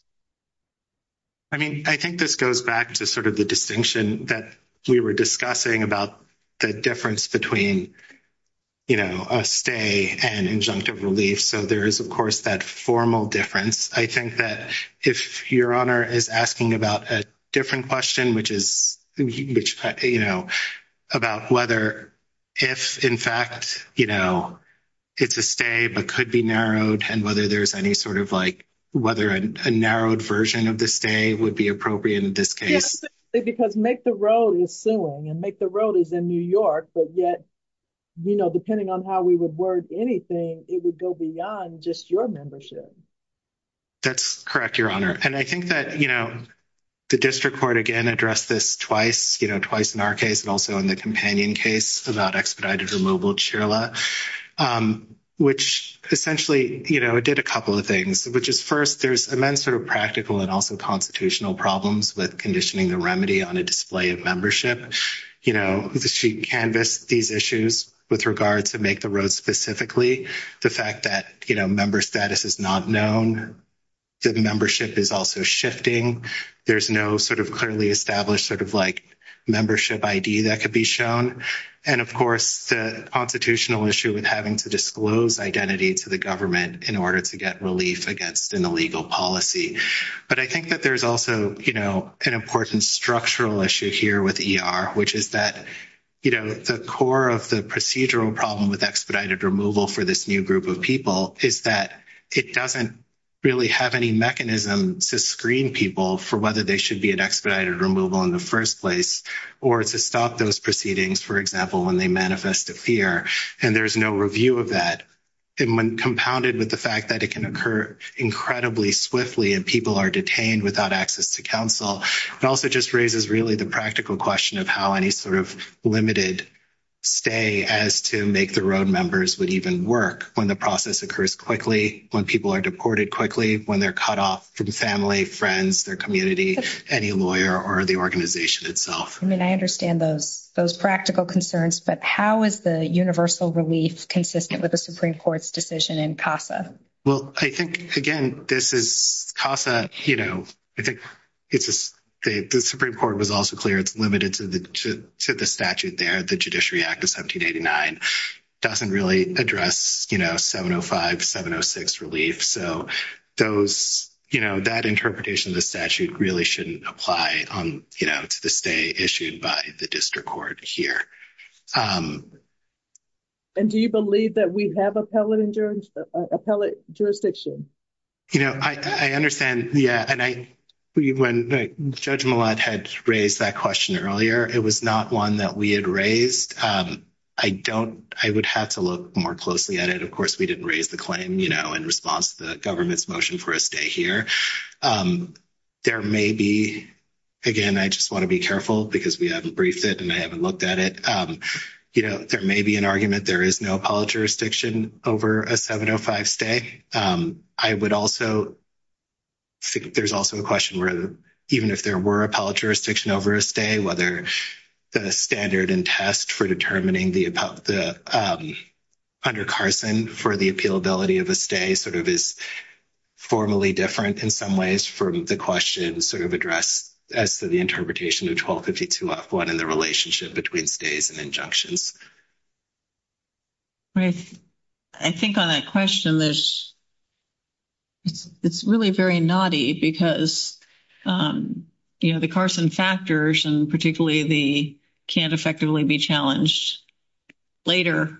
I mean, I think this goes back to sort of the distinction that we were discussing about the difference between, you know, a stay and injunctive relief. So there is of course that formal difference. I think that if your honor is asking about a different question, which is, you know, about whether if in fact, you know, it's a stay but could be narrowed and whether there's any sort of like, whether a narrowed version of this day would be appropriate in this case. Because make the road is soon and make the road is in New York. But yet, you know, depending on how we would work anything, it would go beyond just your membership. That's correct. Your honor. And I think that, you know, the district court again, address this twice, you know, twice in our case, and also in the companion case about expedited removal churla, which essentially, you know, it did a couple of things, which is first, there's a nice sort of practical and also constitutional problems with conditioning the remedy on a display of membership. You know, I think the sheet canvas, these issues with regards to make the road specifically the fact that, you know, member status is not known. So the membership is also shifting. There's no sort of clearly established sort of like membership ID that could be shown. And of course, the constitutional issue with having to disclose identity to the government in order to get relief against an illegal policy. But I think that there's also, you know, and of course, there's a structural issue here with ER, which is that, you know, the core of the procedural problem with expedited removal for this new group of people is that it doesn't really have any mechanism to screen people for whether they should be an expedited removal in the first place, or to stop those proceedings, for example, when they manifest a fear, and there's no review of that. And when compounded with the fact that it can occur incredibly swiftly and people are detained without access to counsel, it also just raises really the practical question of how any sort of limited stay as to make the road members would even work when the process occurs quickly, when people are deported quickly, when they're cut off from family, friends, their community, any lawyer or the organization itself. I mean, I understand those, those practical concerns, but how is the universal relief consistent with the Supreme court's decision in CASA? Well, I think again, this is CASA, you know, I think it's just the Supreme court was also clear it's limited to the statute there. The Judiciary Act of 1789 doesn't really address, you know, 705, 706 relief. So those, you know, that interpretation of the statute really shouldn't apply on, you know, to this day issued by the district court here. And do you believe that we have a pellet in terms of a pellet jurisdiction? You know, I, I understand. Yeah. And I, when Judge Millat had raised that question earlier, it was not one that we had raised. I don't, I would have to look more closely at it. Of course we didn't raise the claim, you know, in response to the government's motion for a stay here. There may be, again, I just want to be careful because we haven't briefed it and I haven't looked at it. You know, there may be an argument. There is no pellet jurisdiction over a 705 stay. I would also think there's also a question where even if there were a pellet jurisdiction over a stay, whether the standard and test for determining the under Carson for the appealability of a stay sort of is formally different in some ways from the question sort of address as to the interpretation of 1252-1 and the relationship between stays and injunctions. Right. I think on that question, it's really very naughty because, you know, the Carson factors and particularly the can't effectively be challenged later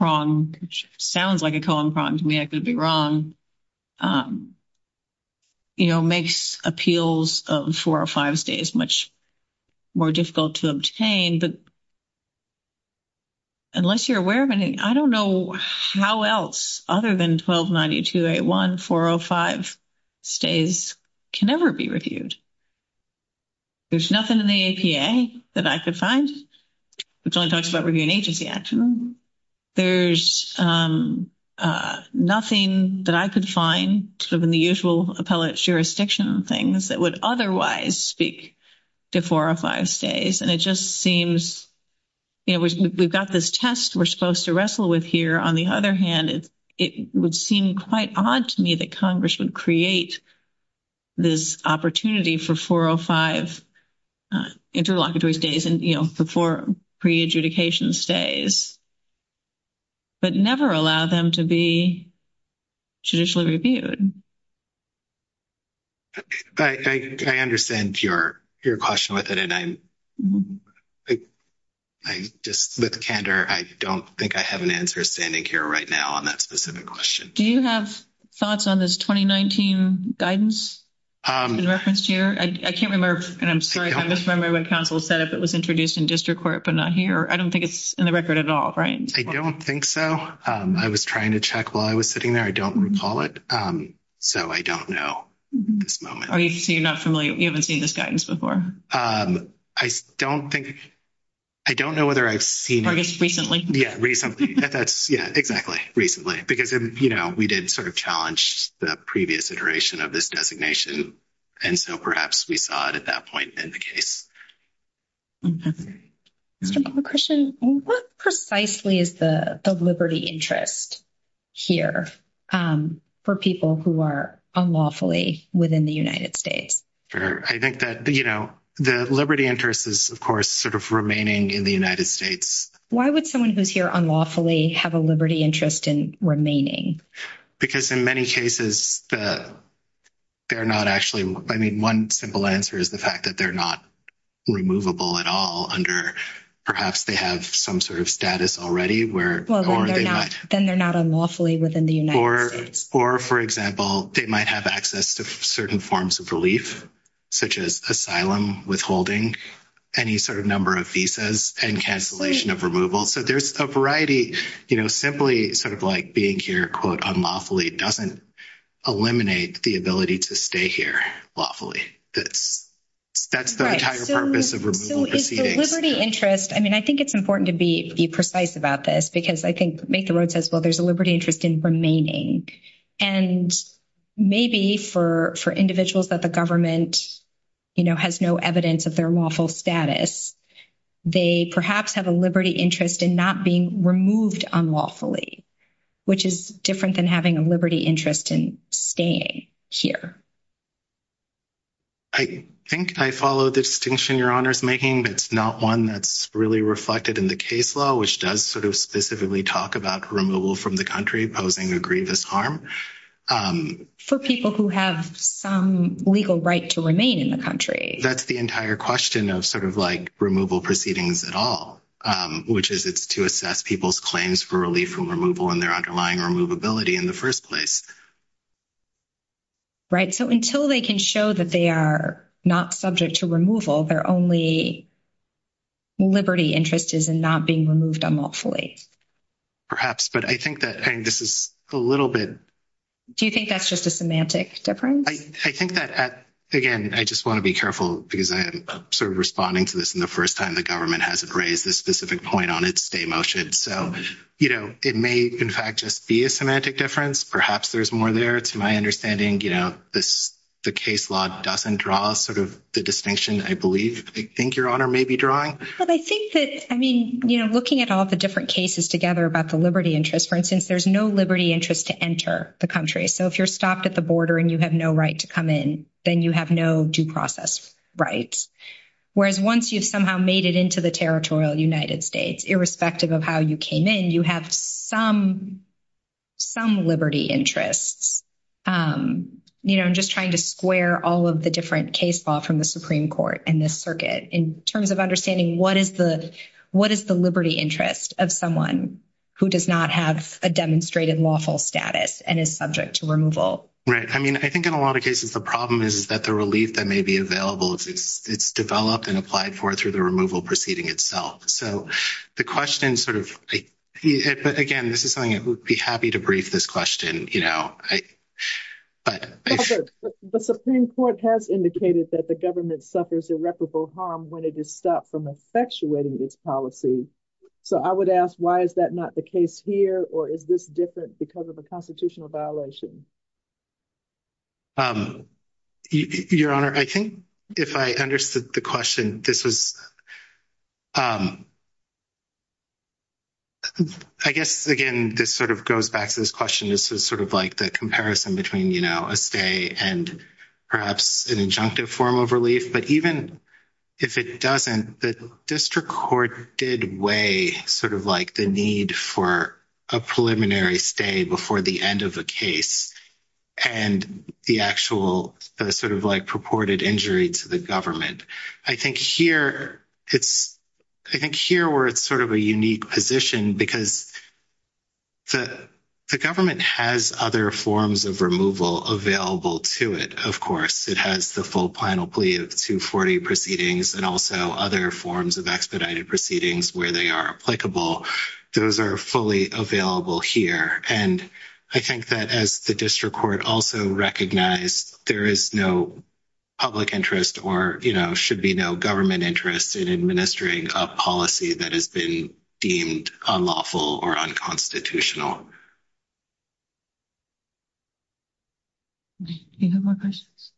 wrong, which sounds like a colon problem to me, I could be wrong. And I think that's one of the things that, you know, makes appeals of 405 stays much more difficult to obtain, but unless you're aware of anything, I don't know how else other than 1292-81, 405 stays can never be reviewed. There's nothing in the APA that I could find. It's only talked about reviewing agency accidents. There's nothing that I could find in the usual appellate jurisdiction things that would otherwise speak to 405 stays. And it just seems, you know, we've got this test we're supposed to wrestle with here. On the other hand, it would seem quite odd to me that Congress would create this opportunity for 405 interlocutors days and, you know, before pre-adjudication stays, but never allow them to be judicially reviewed. I understand your question with it. I just, with candor, I don't think I have an answer standing here right now on that specific question. Do you have thoughts on this 2019 guidance in reference to your, I can't remember, and I'm sorry, I'm just remembering what counsel said if it was introduced in district court, but not here. I don't think it's in the record at all. Right. I don't think so. I was trying to check while I was sitting there. I don't recall it. So I don't know. So you're not familiar. You haven't seen this guidance before. I don't think, I don't know whether I've seen it. Or just recently. Yeah, recently. Yeah, exactly. Recently. Because, you know, we did sort of challenge the previous iteration of this designation. And so perhaps we saw it at that point in the case. I have a question. What precisely is the liberty interest here for people who are unlawfully within the United States? Sure. I think that, you know, the liberty interest is of course sort of remaining in the United States. Why would someone who's here unlawfully have a liberty interest in remaining? Because in many cases, they're not actually, I mean, one simple answer is the fact that they're not removable at all under, perhaps they have some sort of status already. Then they're not unlawfully within the United States. Or for example, they might have access to certain forms of relief, such as asylum, withholding, any sort of number of visas and cancellation of removal. So there's a variety, you know, simply sort of like being here quote unlawfully doesn't eliminate the ability to stay here lawfully. That's the entire purpose of removal proceedings. So is the liberty interest, I mean, I think it's important to be precise about this because I think Make the Road says, well, there's a liberty interest in remaining. And maybe for individuals that the government, you know, has no evidence of their lawful status, they perhaps have a liberty interest in not being removed unlawfully, which is different than having a liberty interest in staying here. I think I follow the distinction your honor's making, but it's not one that's really reflected in the case law, which does sort of specifically talk about removal from the country, posing a grievous harm. For people who have some legal right to remain in the country. That's the entire question of sort of like removal proceedings at all, which is it's to assess people's claims for relief from removal and their underlying removability in the first place. Right. So until they can show that they are not subject to removal, their only liberty interest is in not being removed unlawfully. Perhaps, but I think that this is a little bit. Do you think that's just a semantic difference? I think that, again, I just want to be careful because I am sort of responding to this in the first time the government hasn't raised this specific point on its stay motion. So, you know, it may in fact just be a semantic difference. Perhaps there's more there to my understanding, you know, this, the case law doesn't draw sort of the distinction. I believe I think your honor may be drawing. I think that, I mean, you know, looking at all the different cases together about the liberty interest, for instance, there's no liberty interest to enter the country. So if you're stopped at the border and you have no right to come in, then you have no due process rights. Whereas once you somehow made it into the territorial United States, irrespective of how you came in, you have some, some liberty interests. You know, I'm just trying to square all of the different case law from the Supreme Court and this circuit in terms of understanding what is the, what is the liberty interest of someone who does not have a demonstrated lawful status and is subject to removal. Right. I mean, I think in a lot of cases the problem is that the relief that may be available, it's developed and applied for through the removal proceeding itself. So the question sort of, but again, this is something I would be happy to brief this question, you know, but the Supreme Court has indicated that the government suffers irreparable harm when it is stopped from effectuating this policy. So I would ask, why is that not the case here or is this different because of a constitutional violation? Your Honor, I think if I understood the question, this is, I guess again, this sort of goes back to this question. This is sort of like the comparison between, you know, a stay and perhaps an injunctive form of relief, but even if it doesn't, the district court did weigh sort of like the need for a preliminary stay before the end of the case and the actual sort of like purported injury to the government. I think here it's, I think here where it's sort of a unique position because the, the government has other forms of removal available to it. Of course, it has the full final plea of two 40 proceedings and also other forms of expedited proceedings where they are applicable. Those are fully available here. And I think that as the district court also recognized, there is no public interest or, you know, should be no government interest in administering a policy that has been deemed unlawful or unconstitutional. Do you have more questions?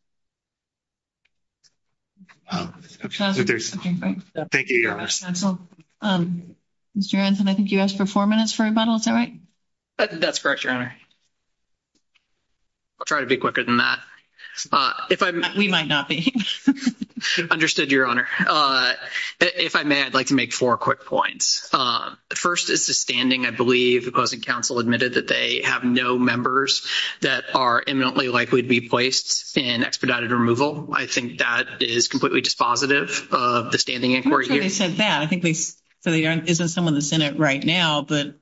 Thank you. Mr. Hanson, I think you asked for four minutes for a minute. Is that right? That's correct, your Honor. I'll try to be quicker than that. If I may, we might not be. Understood, your Honor. If I may, I'd like to make four quick points. The first is the standing, I believe, the closing council admitted that they have no members that are eminently likely to be placed in expedited removal. I think that is completely dispositive of the standing inquiry. I think there isn't someone in the Senate right now, but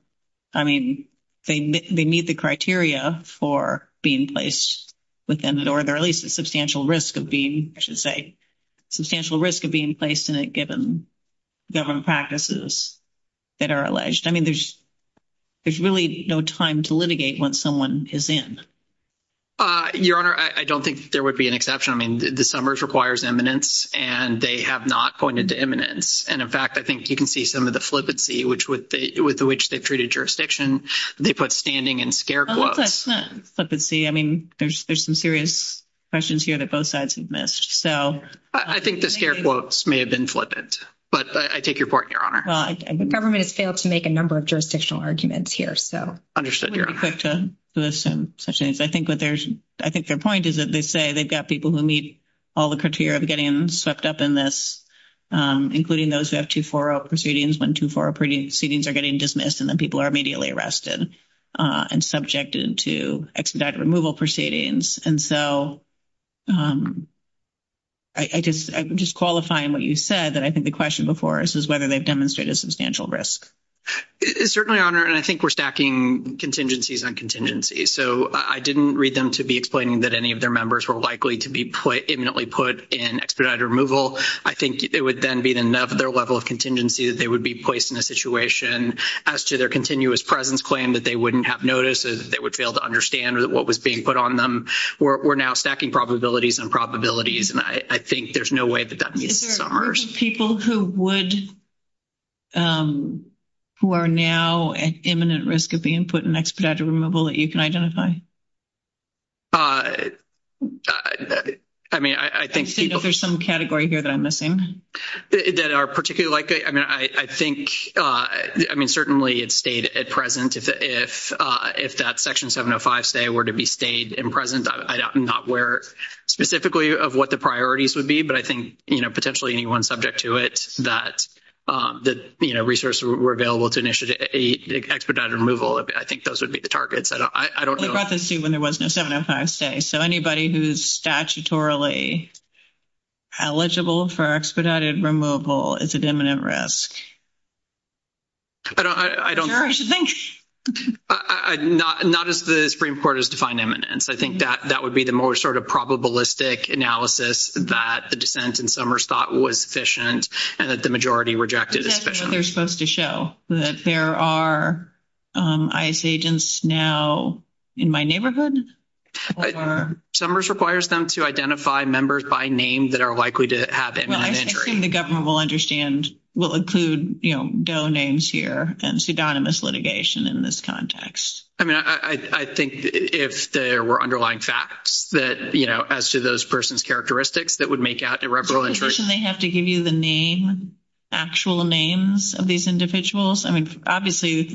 I mean, they meet the criteria for being placed within the order, at least a substantial risk of being, I should say, substantial risk of being placed in a given government practices that are alleged. I mean, there's, there's really no time to litigate once someone is in. Your Honor, I don't think there would be an exception. I mean, the summers requires eminence and they have not pointed to eminence. And in fact, I think you can see some of the flippancy, which would be with which they treated jurisdiction. They put standing in scare quotes. I mean, there's, there's some serious questions here that both sides have missed. So I think the scare quotes may have been flippant, but I take your point, your Honor. I think government has failed to make a number of jurisdictional arguments here. So. I think what there's, I think their point is that they say they've got people who meet all the criteria of getting swept up in this, including those who have two, four proceedings when two, four proceedings are getting dismissed and then people are immediately arrested and subjected to expedite removal proceedings. And so I just, I'm just qualifying what you said that I think the question before us is whether they've demonstrated substantial risk. It's certainly on her. And I think we're stacking contingencies on contingency. So I didn't read them to be explaining that any of their members were likely to be put imminently put in expedited removal. I think it would then be another level of contingency that they would be placed in a situation as to their continuous presence claim that they wouldn't have notices. They would fail to understand what was being put on them. We're now stacking probabilities and probabilities. And I think there's no way that that means. Is there people who would, who are now at imminent risk of being put in expedited removal that you can identify? I mean, I think there's some category here that I'm missing that are particularly likely. I mean, I think, I mean, certainly it's stayed at present. If, if, if that section seven or five say were to be stayed in present, I'm not aware specifically of what the priorities would be, but I think, you know, potentially anyone subject to it, that, that, you know, resources were available to initiate a expedited removal. I think those would be the targets. I don't know. When there wasn't a seven or five say, so anybody who's statutorily eligible for expedited removal, it's an imminent risk. I don't know. Not as the Supreme court has defined eminence. I think that that would be the most sort of probabilistic analysis that the Summers thought was efficient and that the majority rejected. They're supposed to show that there are, um, ISA agents now in my neighborhood. Summers requires them to identify members by name that are likely to have the government will understand will include, you know, domains here and pseudonymous litigation in this context. I mean, I think if there were underlying facts that, you know, as to those person's characteristics that would make out the reference, they have to give you the name, actual names of these individuals. I mean, obviously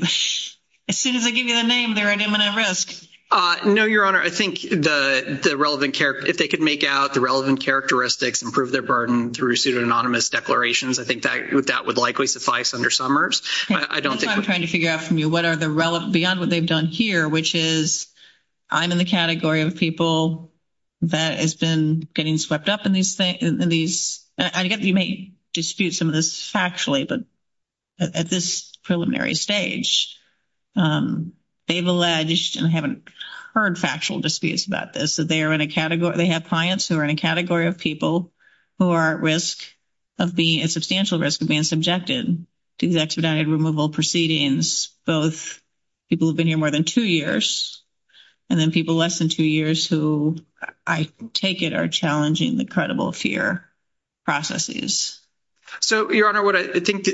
as soon as they give you a name, they're at imminent risk. Uh, no, your honor. I think the, the relevant care, if they could make out the relevant characteristics and prove their burden through pseudonymous declarations, I think that, that would likely suffice under Summers. I don't think I'm trying to figure out from you. What are the relevant beyond what they've done here, which is I'm in the category of people that has been getting swept up in these, in these, I get, you may dispute some of this factually, but at this preliminary stage, um, they've alleged and haven't heard factual disputes about this, that they are in a category, they have clients who are in a category of people who are at risk of being a substantial risk of being subjected to expedited removal proceedings. Both people have been here more than two years and then people less than two years who I take it are challenging the credible fear processes. So your honor, what I think,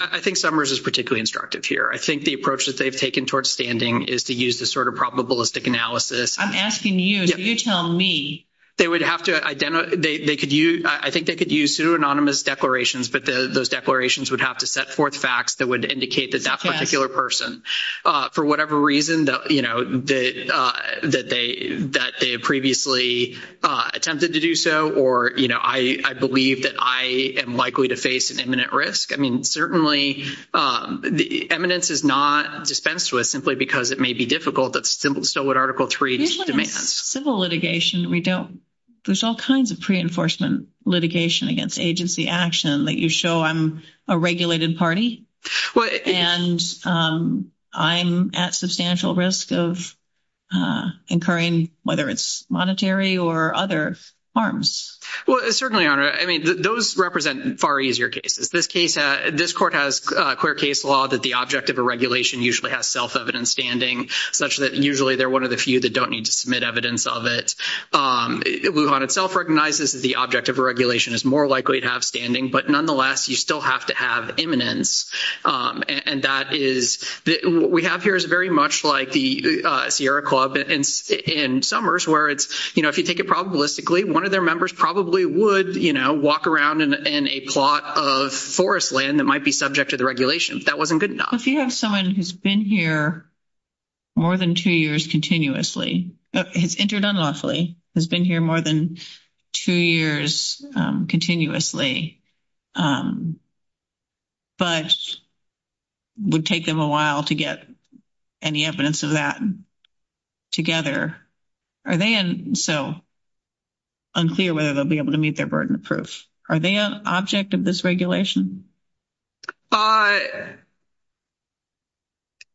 I think Summers is particularly instructive here. I think the approach that they've taken towards standing is to use this sort of probabilistic analysis. I'm asking you, you tell me. They would have to identify, they could use, I think they could use pseudonymous declarations, but those declarations would have to set forth facts that would indicate that particular person, uh, for whatever reason that, you know, that, uh, that they, that they previously, uh, attempted to do so. Or, you know, I, I believe that I am likely to face an imminent risk. I mean, certainly, um, the eminence is not dispensed with simply because it may be difficult. That's still what article three demands. Civil litigation. We don't, there's all kinds of pre enforcement litigation against agency action that you show I'm a regulated party and, um, I'm at substantial risk of, uh, incurring, whether it's monetary or other harms. Well, it's certainly honor. I mean, those represent far easier cases. This case, uh, this court has a clear case law that the object of a regulation usually has self-evidence standing such that usually they're one of the few that don't need to submit evidence of it. Um, it will not itself recognizes that the object of a regulation is more likely to have standing, but nonetheless, you still have to have eminence. Um, and that is what we have here is very much like the, uh, Sierra club and in summers where it's, you know, if you take it probabilistically, one of their members probably would, you know, walk around and, and a plot of forest land that might be subject to the regulation. That wasn't good enough. If you have someone who's been here more than two years continuously, injured unlawfully has been here more than two years, um, continuously, um, but would take them a while to get any evidence of that together. Are they so unclear whether they'll be able to meet their burden of proof? Are they an object of this regulation? Uh,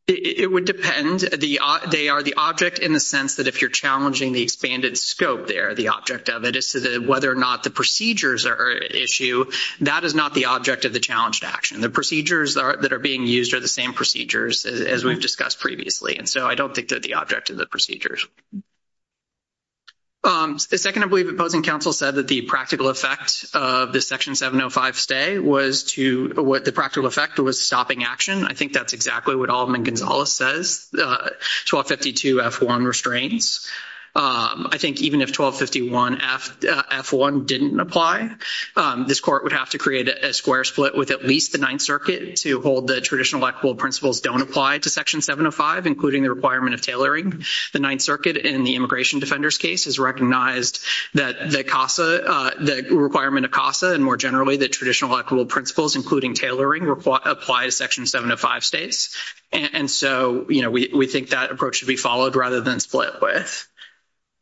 it would depend the, uh, they are the object in the sense that if you're challenging the expanded scope there, the object of it is to the, whether or not the procedures are issue that is not the object of the challenge to action. The procedures that are, that are being used are the same procedures as we've discussed previously. And so I don't think that the object of the procedures. Um, the second I believe opposing counsel said that the practical effects of the section 705 stay was to what the practical effect was stopping action. I think that's exactly what all of them. And Gonzalez says, uh, 1252 F one restraints. Um, I think even if 1251 F F one didn't apply, um, this court would have to create a square split with at least the ninth circuit to hold the traditional blackboard principles. Don't apply to section 705, including the requirement of tailoring. The ninth circuit in the immigration defenders case is recognized that the CASA, uh, the requirement of CASA and more generally, the traditional blackboard principles, including tailoring, apply section seven to five states. And so, you know, we think that approach should be followed rather than split with.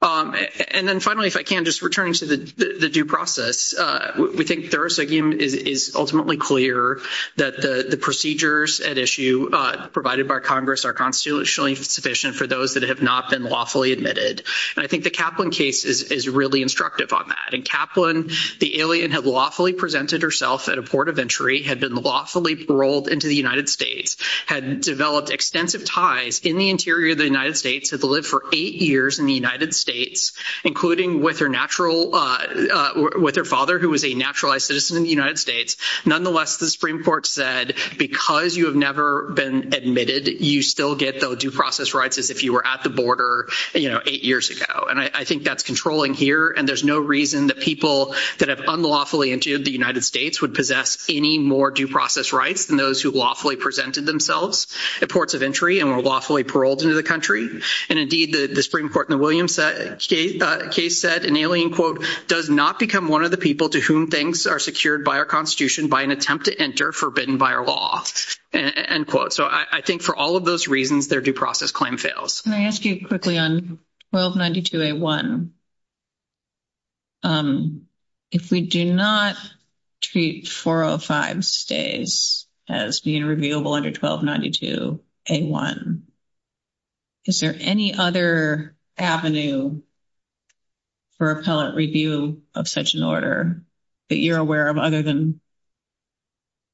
Um, and then finally, if I can just return to the due process, uh, we think there's a game is ultimately clear that the procedures at issue, uh, provided by Congress are constitutionally sufficient for those that have not been lawfully admitted. And I think the Kaplan case is really instructive on that. And Kaplan, the alien had lawfully presented herself at a port of entry, had been lawfully paroled into the United States, had developed extensive ties in the interior of the United States, had to live for eight years in the United States, including with her natural, uh, with her father, who was a naturalized citizen in the United States. Nonetheless, the Supreme court said, because you have never been admitted, you still get those due process rights. As if you were at the border, you know, eight years ago. And I think that's controlling here. And there's no reason that people that have unlawfully into the United States would possess any more due process rights than those who lawfully presented themselves at ports of entry and were lawfully paroled into the country. And indeed the Supreme court in the Williams case said an alien quote, does not become one of the people to whom things are secured by our constitution, by an attempt to enter forbidden by our law and quote. So I think for all of those reasons, their due process claim fails. Can I ask you quickly on 1292 a one? Um, if we do not treat four or five stays as being reviewable under 1292 a one, is there any other avenue for appellate review of such an order that you're aware of other than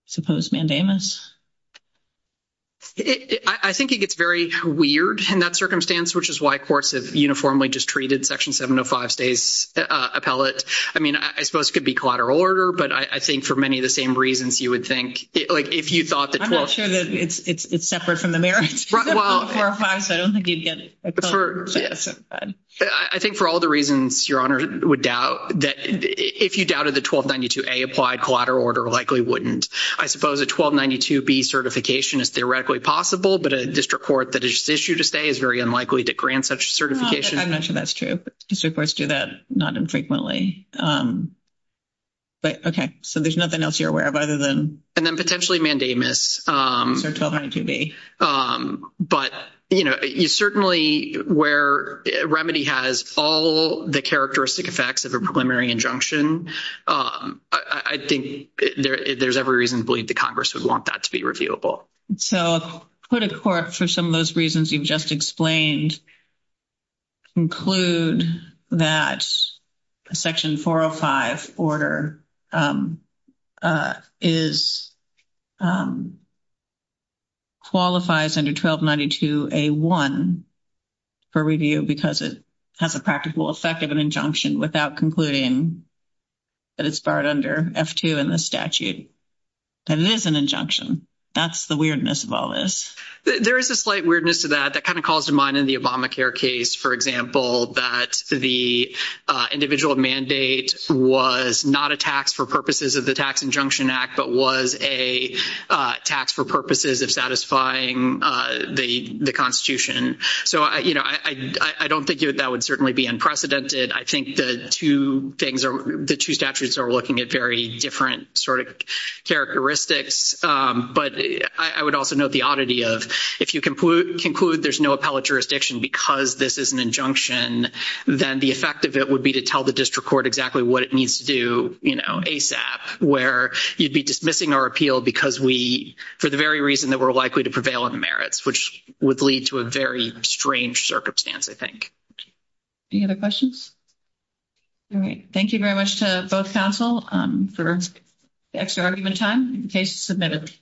suppose mandamus? I think it gets very weird in that circumstance, which is why courts have uniformly just treated section 705 stays a pellet. I mean, I suppose it could be collateral order, but I think for many of the same reasons you would think like, if you thought that it's separate from the marriage, I think for all the reasons your honor would doubt that if you doubted the 1292 a applied collateral order likely wouldn't, I suppose a 1292 B certification is directly possible, but a district court that is issued to stay is very unlikely to grant such certification. I'm not sure that's true. It's supposed to do that not infrequently, but okay. So there's nothing else you're aware of other than, and then potentially mandamus. But you know, you certainly where remedy has all the characteristic effects of a preliminary injunction. I think there's every reason to believe the Congress would want that to be reviewable. So for the court, for some of those reasons you've just explained include that section 405 order is qualifies under 1292 a one for review because it has a practical effect of an injunction. And it's part under F2 and the statute, and it is an injunction. That's the weirdness of all this. There is a slight weirdness to that. That kind of calls to mind in the Obamacare case, for example, that the individual mandate was not a tax for purposes of the tax injunction act, but was a tax for purposes of satisfying the, the constitution. So I, you know, I don't think that that would certainly be unprecedented. I think the two things are, the two statutes are looking at very different sort of characteristics. But I would also note the oddity of, if you conclude there's no appellate jurisdiction because this is an then the effect of it would be to tell the district court exactly what it needs to do. You know, ASAP where you'd be dismissing our appeal because we, for the very reason that we're likely to prevail in the merits, which would lead to a very strange circumstance. I think. Do you have a question? All right. Thank you very much to both council for extra argument time in case submitted.